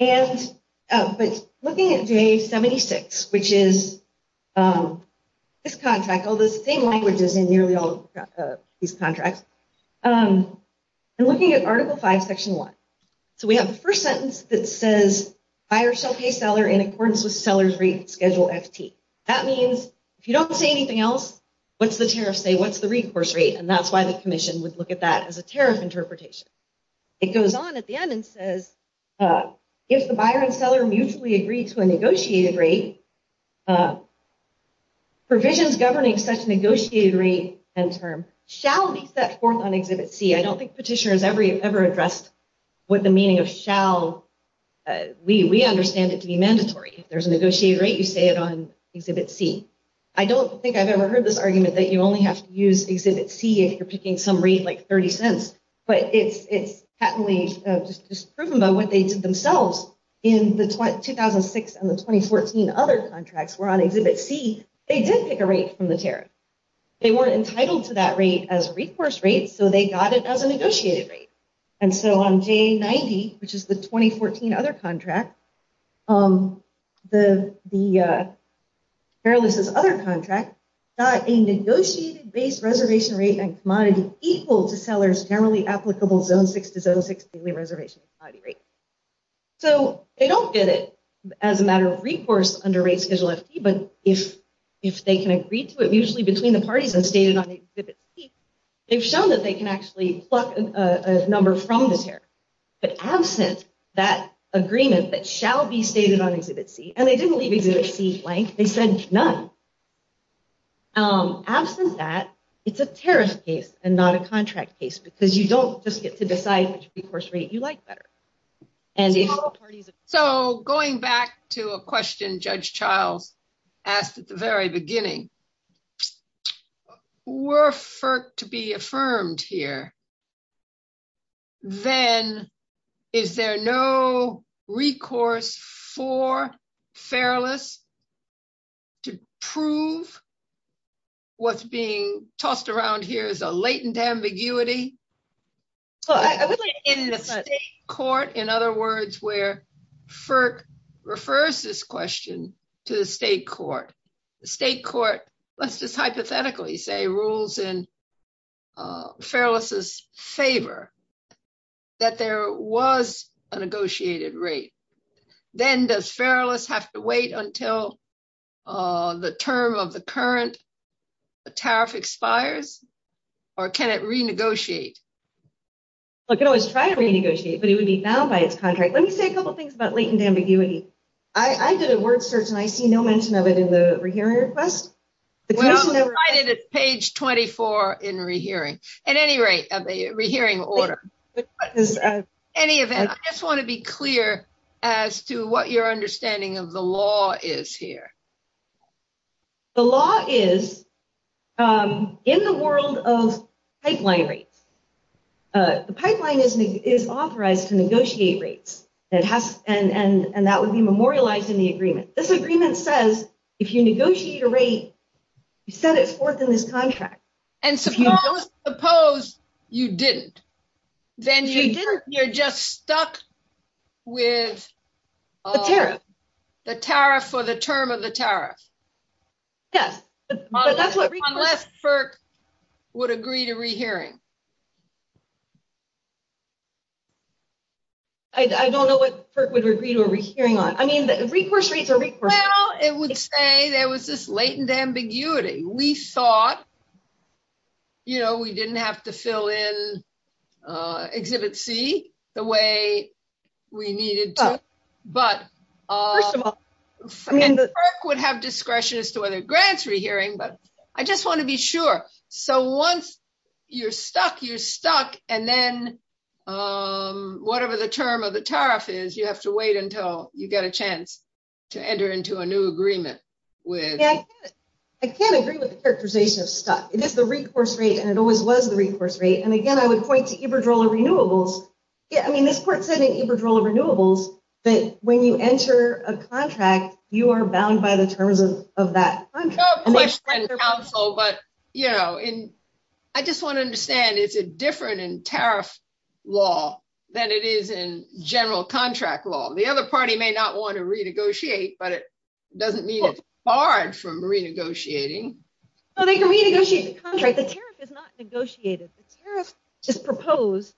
And looking at day 76, which is this contract, all those same languages in your contract, I'm looking at Article 5, Section 1. So we have the first sentence that says, buyer shall pay seller in accordance with seller's rate schedule F.P. That means, if you don't say anything else, what's the tariff say? What's the recourse rate? And that's why the commission would look at that as a tariff interpretation. It goes on at the end and says, if the buyer and seller mutually agree to a negotiated rate, provisions governing such negotiated rate and term shall be set forth on Exhibit C. I don't think petitioners ever addressed what the meaning of shall... We understand it to be mandatory. If there's a negotiated rate, you say it on Exhibit C. I don't think I've ever heard this argument that you only have to use Exhibit C if you're picking some rate like 30 cents. But it's proven by what they did themselves in 2006 and the 2014 other contracts were on Exhibit C. They did pick a rate from the tariff. They weren't entitled to that rate as a recourse rate, so they got it as a negotiated rate. And so on day 90, which is the 2014 other contract, the Fairless's other contract, got a negotiated base reservation rate and commodity equal to sellers narrowly applicable zone 6 to zone 6 reservation rate. So they don't get it as a matter of recourse under rates, but if they can agree to it, usually between the parties and stated on Exhibit C, they've shown that they can actually pluck a number from the tariff. But absent that agreement that shall be stated on Exhibit C, and they didn't leave Exhibit C blank, they said none. Absent that, it's a tariff case and not a contract case because you don't just get to decide which recourse rate you like better. So going back to a question Judge Child asked at the very beginning, were FERC to be affirmed here, then is there no recourse for Fairless to prove what's being tossed around here as a latent ambiguity? In the state court, in other words, where FERC refers this question to the state court. The state court, let's just hypothetically say, rules in Fairless's favor that there was a negotiated rate. Then does Fairless have to wait until the term of the current tariff expires or can it renegotiate? It can always try to renegotiate, but it would be bound by its contract. Let me say a couple things about latent ambiguity. I did a work search and I see no mention of it in the rehearing request. Well, it's cited at page 24 in the rehearing. At any rate, a rehearing order. In any event, I just want to be clear as to what your understanding of the law is here. The law is in the world of pipeline rates. The pipeline is authorized to negotiate rates and that would be memorialized in the agreement. This agreement says if you negotiate a rate, you set it forth in this contract. And suppose you didn't. Then you're just stuck with the tariff for the term of the tariff. Yes. Unless FERC would agree to rehearing. I don't know what FERC would agree to a rehearing on. I mean, the recourse rates are- Well, it would say there was this latent ambiguity. We thought we didn't have to fill in Exhibit C the way we needed to. But first of all, I mean- FERC would have discretion as to whether it grants rehearing, but I just want to be sure. So once you're stuck, you're stuck. And then whatever the term of the tariff is, you have to wait until you get a chance to enter into a new agreement with- Yeah, I can't agree with FERC's position of stuck. It is the recourse rate and it always was the recourse rate. And again, I would point to Iberdrola Renewables. I mean, this part said in Iberdrola Renewables that when you enter a contract, you are bound by the terms of that. But I just want to understand, it's different in tariff law than it is in general contract law. The other party may not want to renegotiate, but it doesn't mean it's barred from renegotiating. Well, they can renegotiate the contract. The tariff is not negotiated. The tariff is proposed.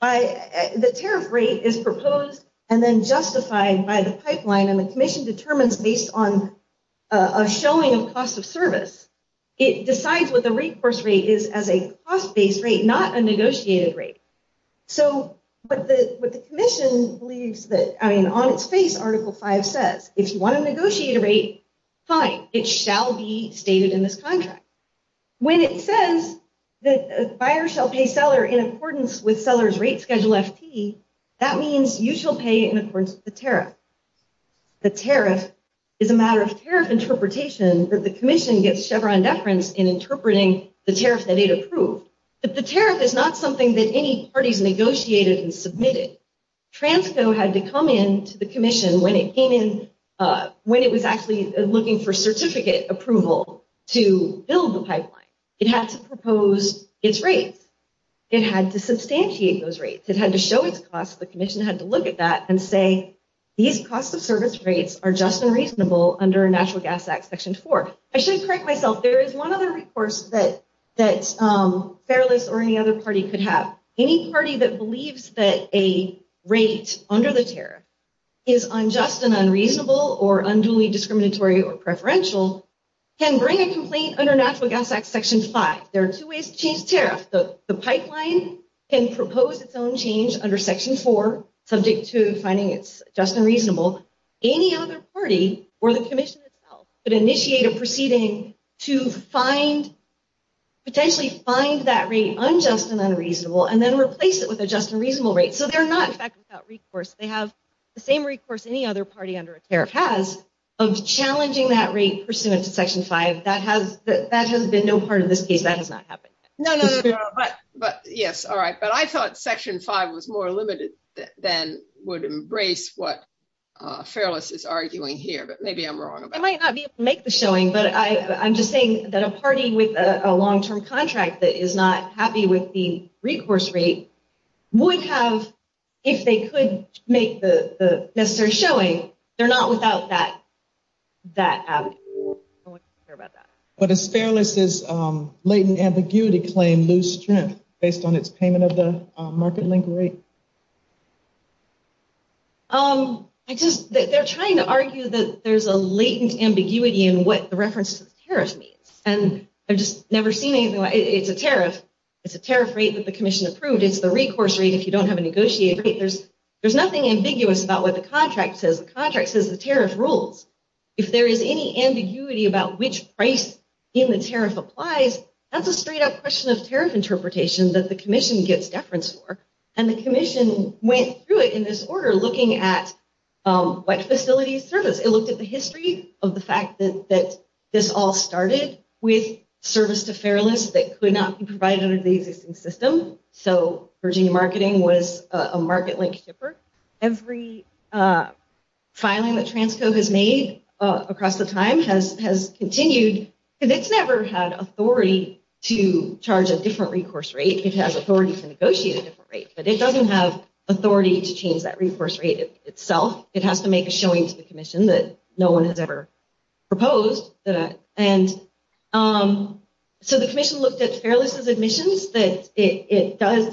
The tariff rate is proposed and then justified by the pipeline and the commission determines based on a showing of cost of service. It decides what the recourse rate is as a cost-based rate, not a negotiated rate. But the commission believes that, I mean, on its face, Article V says, if you want to negotiate a rate, fine, it shall be stated in this contract. When it says that a buyer shall pay seller in accordance with seller's rate schedule FT, that means you shall pay in accordance with the tariff. The tariff is a matter of tariff interpretation that the commission gets Chevron deference in interpreting the tariff that it approved. But the tariff is not something that any parties negotiated and submitted. Transco had to come in to the commission when it came in, when it was actually looking for certificate approval to build the pipeline. It has to propose its rates. It had to substantiate those rates. It had to show its cost. The commission had to look at that and say, these cost of service rates are just unreasonable under a National Gas Act section four. I should correct myself. There is one other recourse that Fairless or any other party could have. Any party that believes that a rate under the tariff is unjust and unreasonable or unduly discriminatory or preferential can bring a complaint under National Gas Act section five. There are two ways to change tariffs. The pipeline can propose its own change under section four, subject to finding it's just and reasonable. Any other party or the commission itself could then replace it with a just and reasonable rate. They have the same recourse any other party under a tariff has of challenging that rate pursuant to section five. That has been no part of this case. That has not happened. I thought section five was more limited than would embrace what Fairless is arguing here, but maybe I'm wrong. I might not be able to make the showing, but I'm happy with the recourse rate. If they could make the necessary showing, they're not without that avenue. I don't want to hear about that. But is Fairless's latent ambiguity claim loose strength based on its payment of the market link rate? They're trying to argue that there's a latent ambiguity in what the reference tariff means. I've just never seen anything like it. It's a tariff. It's a tariff rate that the commission approved. It's the recourse rate if you don't have a negotiated rate. There's nothing ambiguous about what the contract says. The contract says the tariff rules. If there is any ambiguity about which price in the tariff applies, that's a straight up question of tariff interpretation that the commission gets reference for. The commission went through it in this order looking at what facilities service. It looked at the history of the fact that this all started with service to Fairless that could not be provided under the existing system. So Virginia Marketing was a market link shipper. Every filing that Transcode has made across the time has continued. It's never had authority to charge a different recourse rate. It has authority to negotiate a different rate, but it doesn't have authority to change that recourse rate itself. It has to make a showing to the commission that no one has ever proposed. So the commission looked at Fairless's admissions.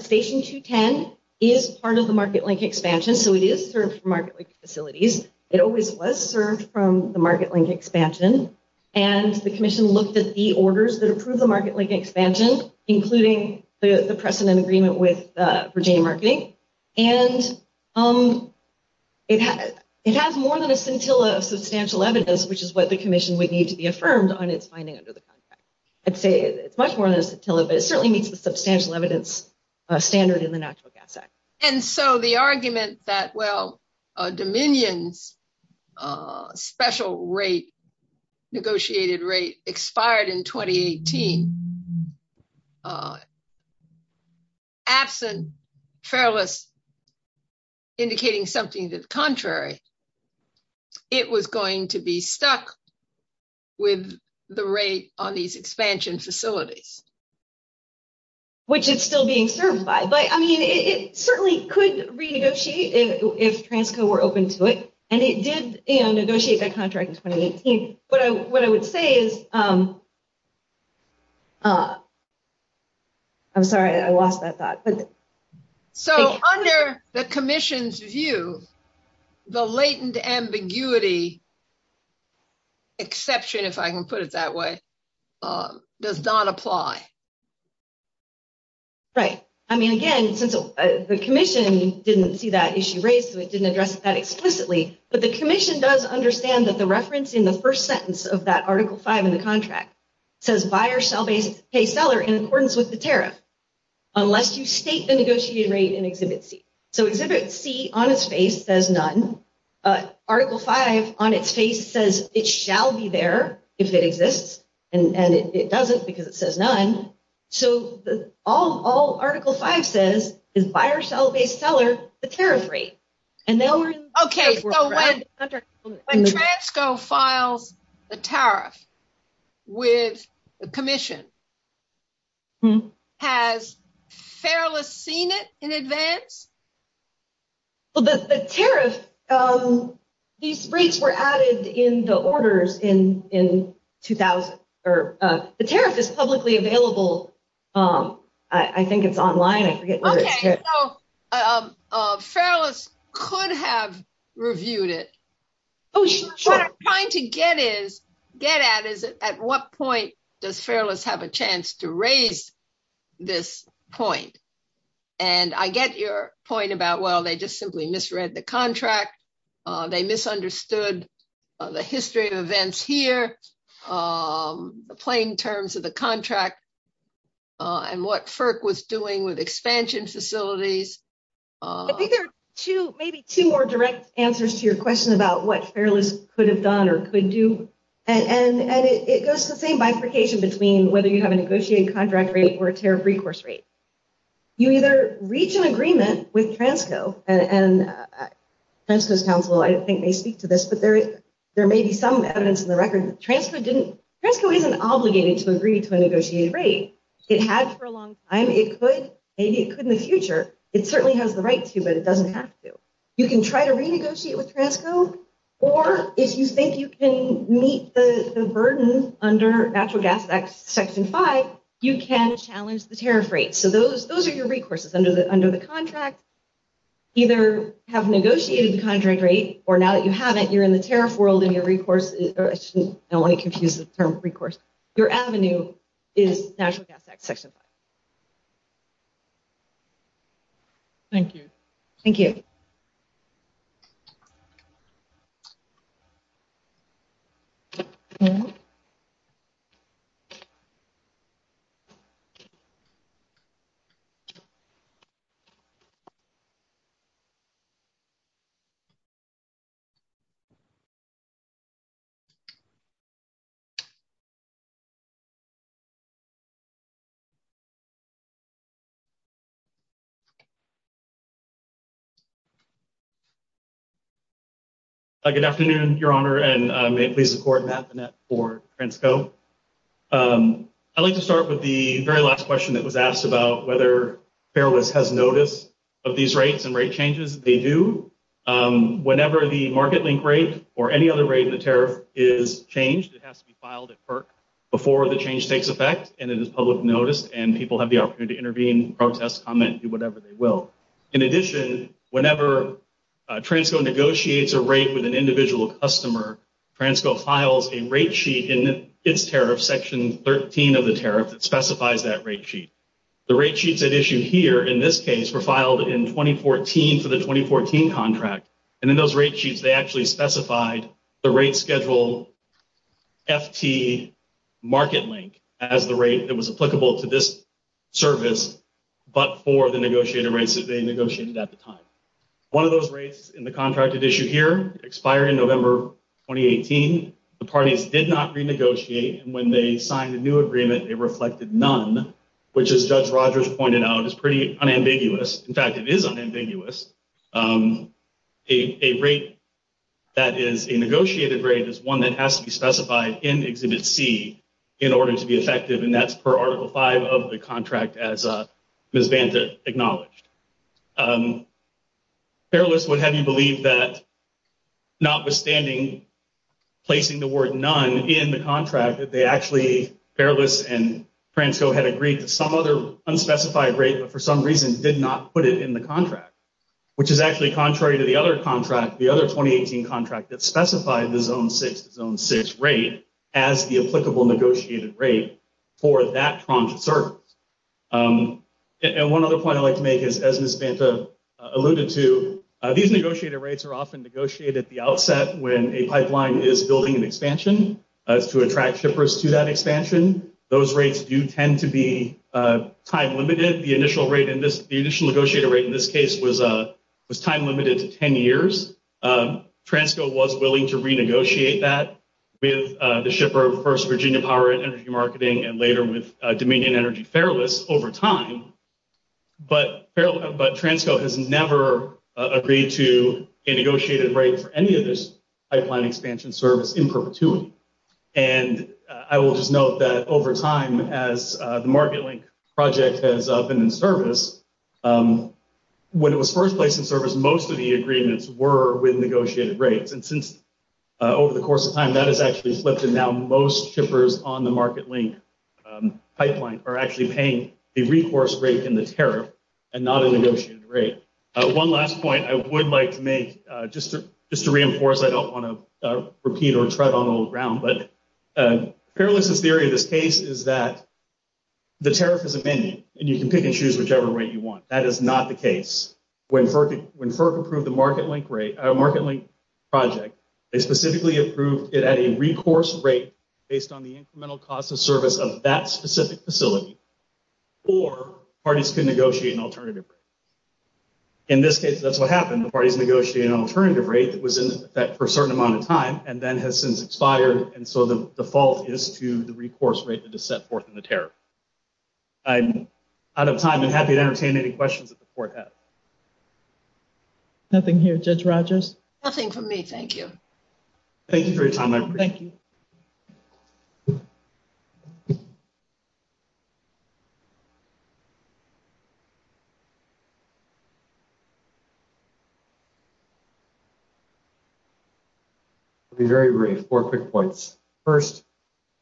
Station 210 is part of the market link expansion. So it is served for market link facilities. It always was served from the market link expansion. And the commission looked at the marketing and it has more than a scintilla of substantial evidence, which is what the commission would need to be affirmed on its finding under the contract. I'd say it's much more than a scintilla, but it certainly needs a substantial evidence standard in the National Gas Act. And so the argument that, well, Dominion's special negotiated rate expired in 2018 and that's a fair list indicating something that's contrary, it was going to be stuck with the rate on these expansion facilities. Which is still being served by, but I mean, it certainly could renegotiate if Transcode were open foot and it did negotiate that contract. What I would say is I'm sorry, I lost that thought. So under the commission's view, the latent ambiguity exception, if I can put it that way, does not apply. Right. I mean, again, the commission didn't see that issue raised, so it didn't address that explicitly, but the commission does understand that the reference in the first in the contract says buyer sell base pay seller in accordance with the tariff, unless you state the negotiated rate in Exhibit C. So Exhibit C on its face says none, Article V on its face says it shall be there if it exists, and it doesn't because it says none. So all Article V says is buyer sell base seller the tariff rate. Okay. So when Transcode filed the tariff with the commission, has Fairless seen it in advance? Well, the tariff, these rates were added in the orders in 2000, or the tariff is publicly available. I think it's online. Fairless could have reviewed it. What I'm trying to get at is at what point does Fairless have a chance to raise this point? And I get your point about, well, they just simply misread the contract. They misunderstood the history of events here, the plain terms of the contract, and what FERC was doing with expansion facilities. I think there are two, maybe two more direct answers to your question about what Fairless could have done or could do. And it goes to the same bifurcation between whether you have a negotiated contract rate or a tariff recourse rate. You either reach an agreement with Transcode, and Transcode's counsel, I don't think they speak to this, but there may be some evidence in the records that Transcode isn't obligated to agree to a negotiated rate. It has for a long time. It could, maybe it could in the future. It certainly has the right to, but it doesn't have to. You can try to renegotiate with Transcode, or if you think you can meet the burden under natural gas section five, you can challenge the tariff rate. So those are your recourses under the contract. Either have a negotiated contract rate, or now that you have it, you're in the tariff world and your recourse, now let me confuse the term recourse, your avenue is natural gas section five. Thank you. Thank you. Good afternoon, Your Honor, and may it please the Court, Matt Bennett for Transcode. I'd like to start with the very last question that was asked about whether or any other rate in the tariff is changed. It has to be filed at FERC before the change takes effect, and it is public notice, and people have the opportunity to intervene, protest, comment, do whatever they will. In addition, whenever Transcode negotiates a rate with an individual customer, Transcode files a rate sheet in its tariff, section 13 of the tariff that specifies that rate sheet. The rate sheets that are issued here, in this case, were filed in 2014 for the contract, and in those rate sheets, they actually specified the rate schedule FT Market Link as the rate that was applicable to this service, but for the negotiated rates that they negotiated at the time. One of those rates in the contract that's issued here, expiring November 2018, the parties did not renegotiate, and when they signed a new agreement, it reflected none, which as Judge a rate that is a negotiated rate is one that has to be specified in Exhibit C in order to be effective, and that's per Article 5 of the contract as Ms. Banza acknowledged. Fairless would have you believe that notwithstanding placing the word none in the contract, that they actually, Fairless and Transcode had agreed to some other unspecified rate, but for some reason, did not put it in the contract, which is actually contrary to the other contract, the other 2018 contract that specified the Zone 6, Zone 6 rate as the applicable negotiated rate for that Trump service. And one other point I'd like to make is, as Ms. Banza alluded to, these negotiated rates are often negotiated at the outset when a pipeline is building an expansion to attract shippers to that expansion. Those rates do tend to be time limited. The initial negotiated rate in this case was time limited to 10 years. Transcode was willing to renegotiate that with the shipper, first Virginia Power Energy Marketing, and later with Dominion Energy Fairless over time, but Transcode has never agreed to a negotiated rate for any of this pipeline expansion service in perpetuity. And I will note that over time as the MarketLink project has been in service, when it was first placed in service, most of the agreements were with negotiated rates. And since over the course of time, that has actually slipped, and now most shippers on the MarketLink pipeline are actually paying a reforced rate in the tariff and not a negotiated rate. One last point I would like to just to reinforce, I don't want to repeat or tread on old ground, but Fairless' theory of this case is that the tariff is amended, and you can pick and choose whichever rate you want. That is not the case. When FERC approved the MarketLink project, they specifically approved it at a recourse rate based on the incremental cost of service of that specific facility, or parties to negotiate an alternative rate. In this case, that's what happened. The parties negotiated an alternative rate that was in effect for a certain amount of time and then has since expired, and so the fault is to the recourse rate that is set forth in the tariff. I'm out of time and happy to entertain any questions that the court has. Nothing here, Judge Rogers? Nothing from me, Judge? I'll be very brief. Four quick points. First,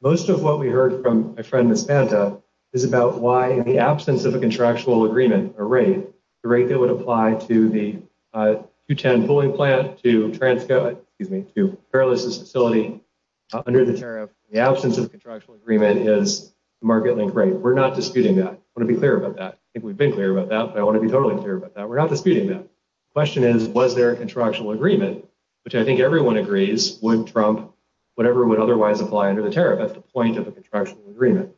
most of what we heard from a friend, Ms. Banta, is about why in the absence of a contractual agreement, a rate, the rate that would apply to the 210 bullying plan to Fairless' facility under the tariff, the absence of contractual agreement is the MarketLink rate. We're not disputing that. I want to be clear about that. I think we've been clear about that, but I want to be totally clear about that. We're not disputing that. The question is, was there a contractual agreement, which I think everyone agrees would trump whatever would otherwise apply under the tariff at the point of the contractual agreement.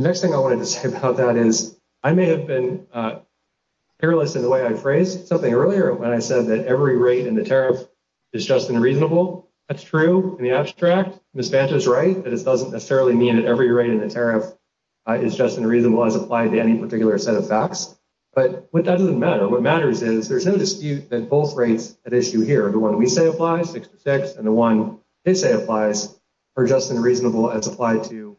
The next thing I wanted to say about that is, I may have been careless in the way I phrased something earlier when I said that every rate in the tariff is just and reasonable. That's true in the abstract. Ms. Banta's right that it doesn't necessarily mean that every rate in the tariff is just and reasonable as applied to any particular set of facts. But that doesn't matter. What matters is there's no dispute that both rates at issue here, the one we say applies, 6 to 6, and the one they say applies, are just and reasonable as applied to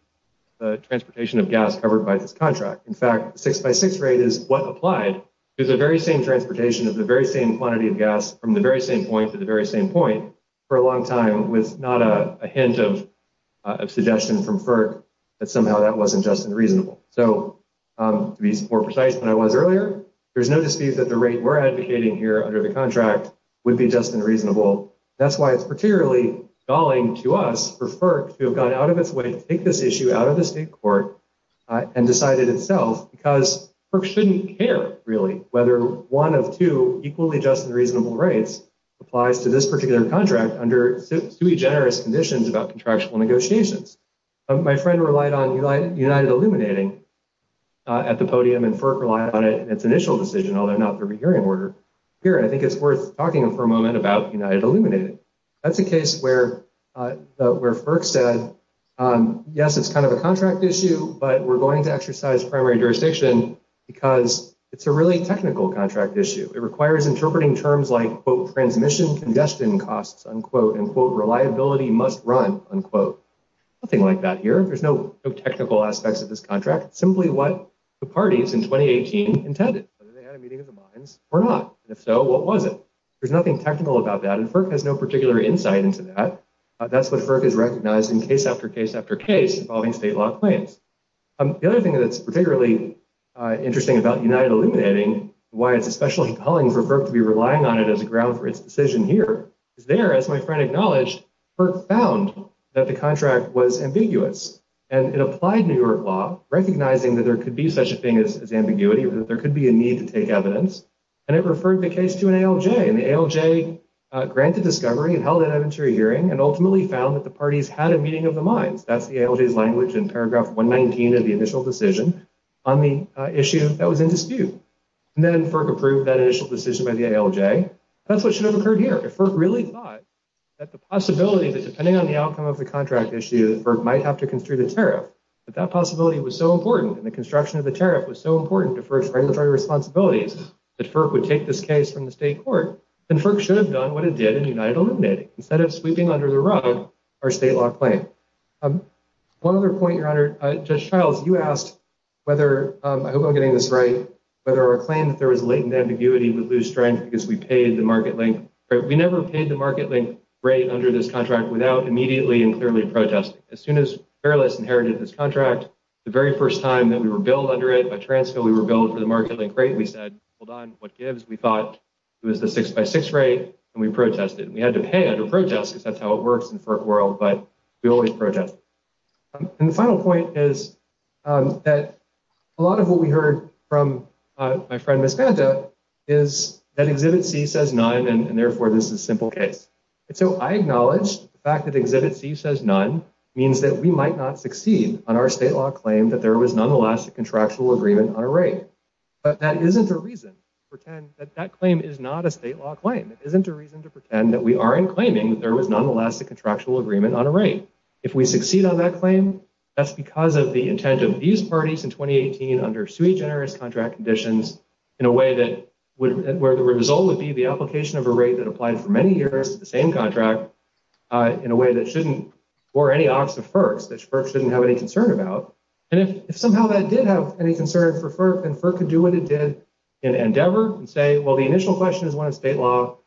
the transportation of gas covered by this contract. In fact, 6 by 6 rate is what applied to the very same transportation of the very same quantity of gas from the very same point to the very same point for a long time with not a hint of a suggestion from FERC that somehow that wasn't just and reasonable. So to be more precise than I was earlier, there's no dispute that the rate we're advocating here under the contract would be just and reasonable. That's why it's particularly galling to us for FERC to have gone out of its way to take this issue out of the state court and decide it itself, because FERC shouldn't care, really, whether one of two equally just and reasonable rates applies to this particular contract under sui generis conditions about contractual negotiations. My friend relied on United Illuminating at the podium, and FERC relied on it in its initial decision, although not through a hearing order. Here, I think it's worth talking for a moment about United Illuminating. That's a case where FERC said, yes, it's kind of a contract issue, but we're going to exercise primary jurisdiction because it's a really technical contract issue. It requires interpreting terms like, quote, transmission congestion costs, unquote, and, quote, reliability must run, unquote. Nothing like that here. There's no technical aspects of this contract. Simply what the parties in 2018 intended, whether they had a meeting of the minds or not. And if so, what was it? There's nothing technical about that, and FERC has no particular insight into that. That's what FERC has recognized in case after case after case involving state law claims. The other thing that's particularly interesting about United Illuminating, why it's especially compelling for FERC to be relying on it as a ground for its decision here, is there, as my friend acknowledged, FERC found that the contract was ambiguous, and it applied New York law, recognizing that there could be such a thing as ambiguity, that there could be a need to take evidence, and it referred the case to an ALJ, and the ALJ granted discovery and held an inventory hearing and ultimately found that the parties had a mind. That's the ALJ's language in paragraph 119 of the initial decision on the issue that was in dispute. And then FERC approved that initial decision by the ALJ. That's what should have occurred here. If FERC really thought that the possibility that, depending on the outcome of the contract issue, that FERC might have to construe the tariff, that that possibility was so important and the construction of the tariff was so important to FERC's regulatory responsibilities that FERC would take this case from the state court, then FERC should have done what it did instead of sweeping under the rug our state law claim. One other point, Your Honor, Judge Childs, you asked whether, I hope I'm getting this right, whether our claim that there was latent ambiguity would lose strength because we paid the market link rate. We never paid the market rate under this contract without immediately and clearly protesting. As soon as Fairless inherited this contract, the very first time that we were billed under it by Transco, we were billed to the market link rate. We said, hold on, what gives? We thought it was the six by six rate and we protested. And we had to pay under protest because that's how it works in the FERC world, but we always protest. And the final point is that a lot of what we heard from my friend Ms. Santa is that Exhibit C says none and therefore this is a simple case. And so I acknowledge the fact that Exhibit C says none means that we might not succeed on our state law claim that there was nonetheless a contractual agreement on a rate. But that isn't a reason to pretend that that claim is not a state law claim. It isn't a reason to pretend that we aren't claiming that there was nonetheless a contractual agreement on a rate. If we succeed on that claim, that's because of the intent of these parties in 2018 under sui generis contract conditions in a way that where the result would be the application of a rate that applied for many years to the same contract in a way that shouldn't, or any FERC shouldn't have any concern about. And if somehow that did have any concern for FERC, then FERC could do what it did in Endeavor and say, well, the initial question is one state law.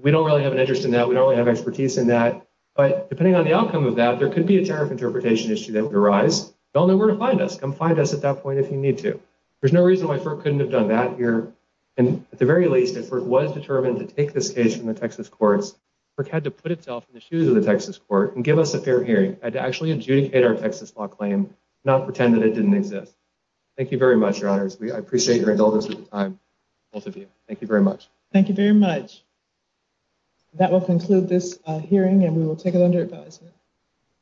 We don't really have an interest in that. We don't really have expertise in that, but depending on the outcome of that, there could be a tariff interpretation issue that would arise. Don't know where to find us. Come find us at that point if you need to. There's no reason why FERC couldn't have done that here. And at the very least, if it was determined to take this case from the Texas courts, FERC had to put itself in the shoes of the Texas court and give us a fair hearing and to actually adjudicate our Texas law claim, not pretend that it didn't exist. Thank you very much, Your Honors. I appreciate your indulgence of time, both of you. Thank you very much. Thank you very much. That will conclude this hearing and we will take it under advice.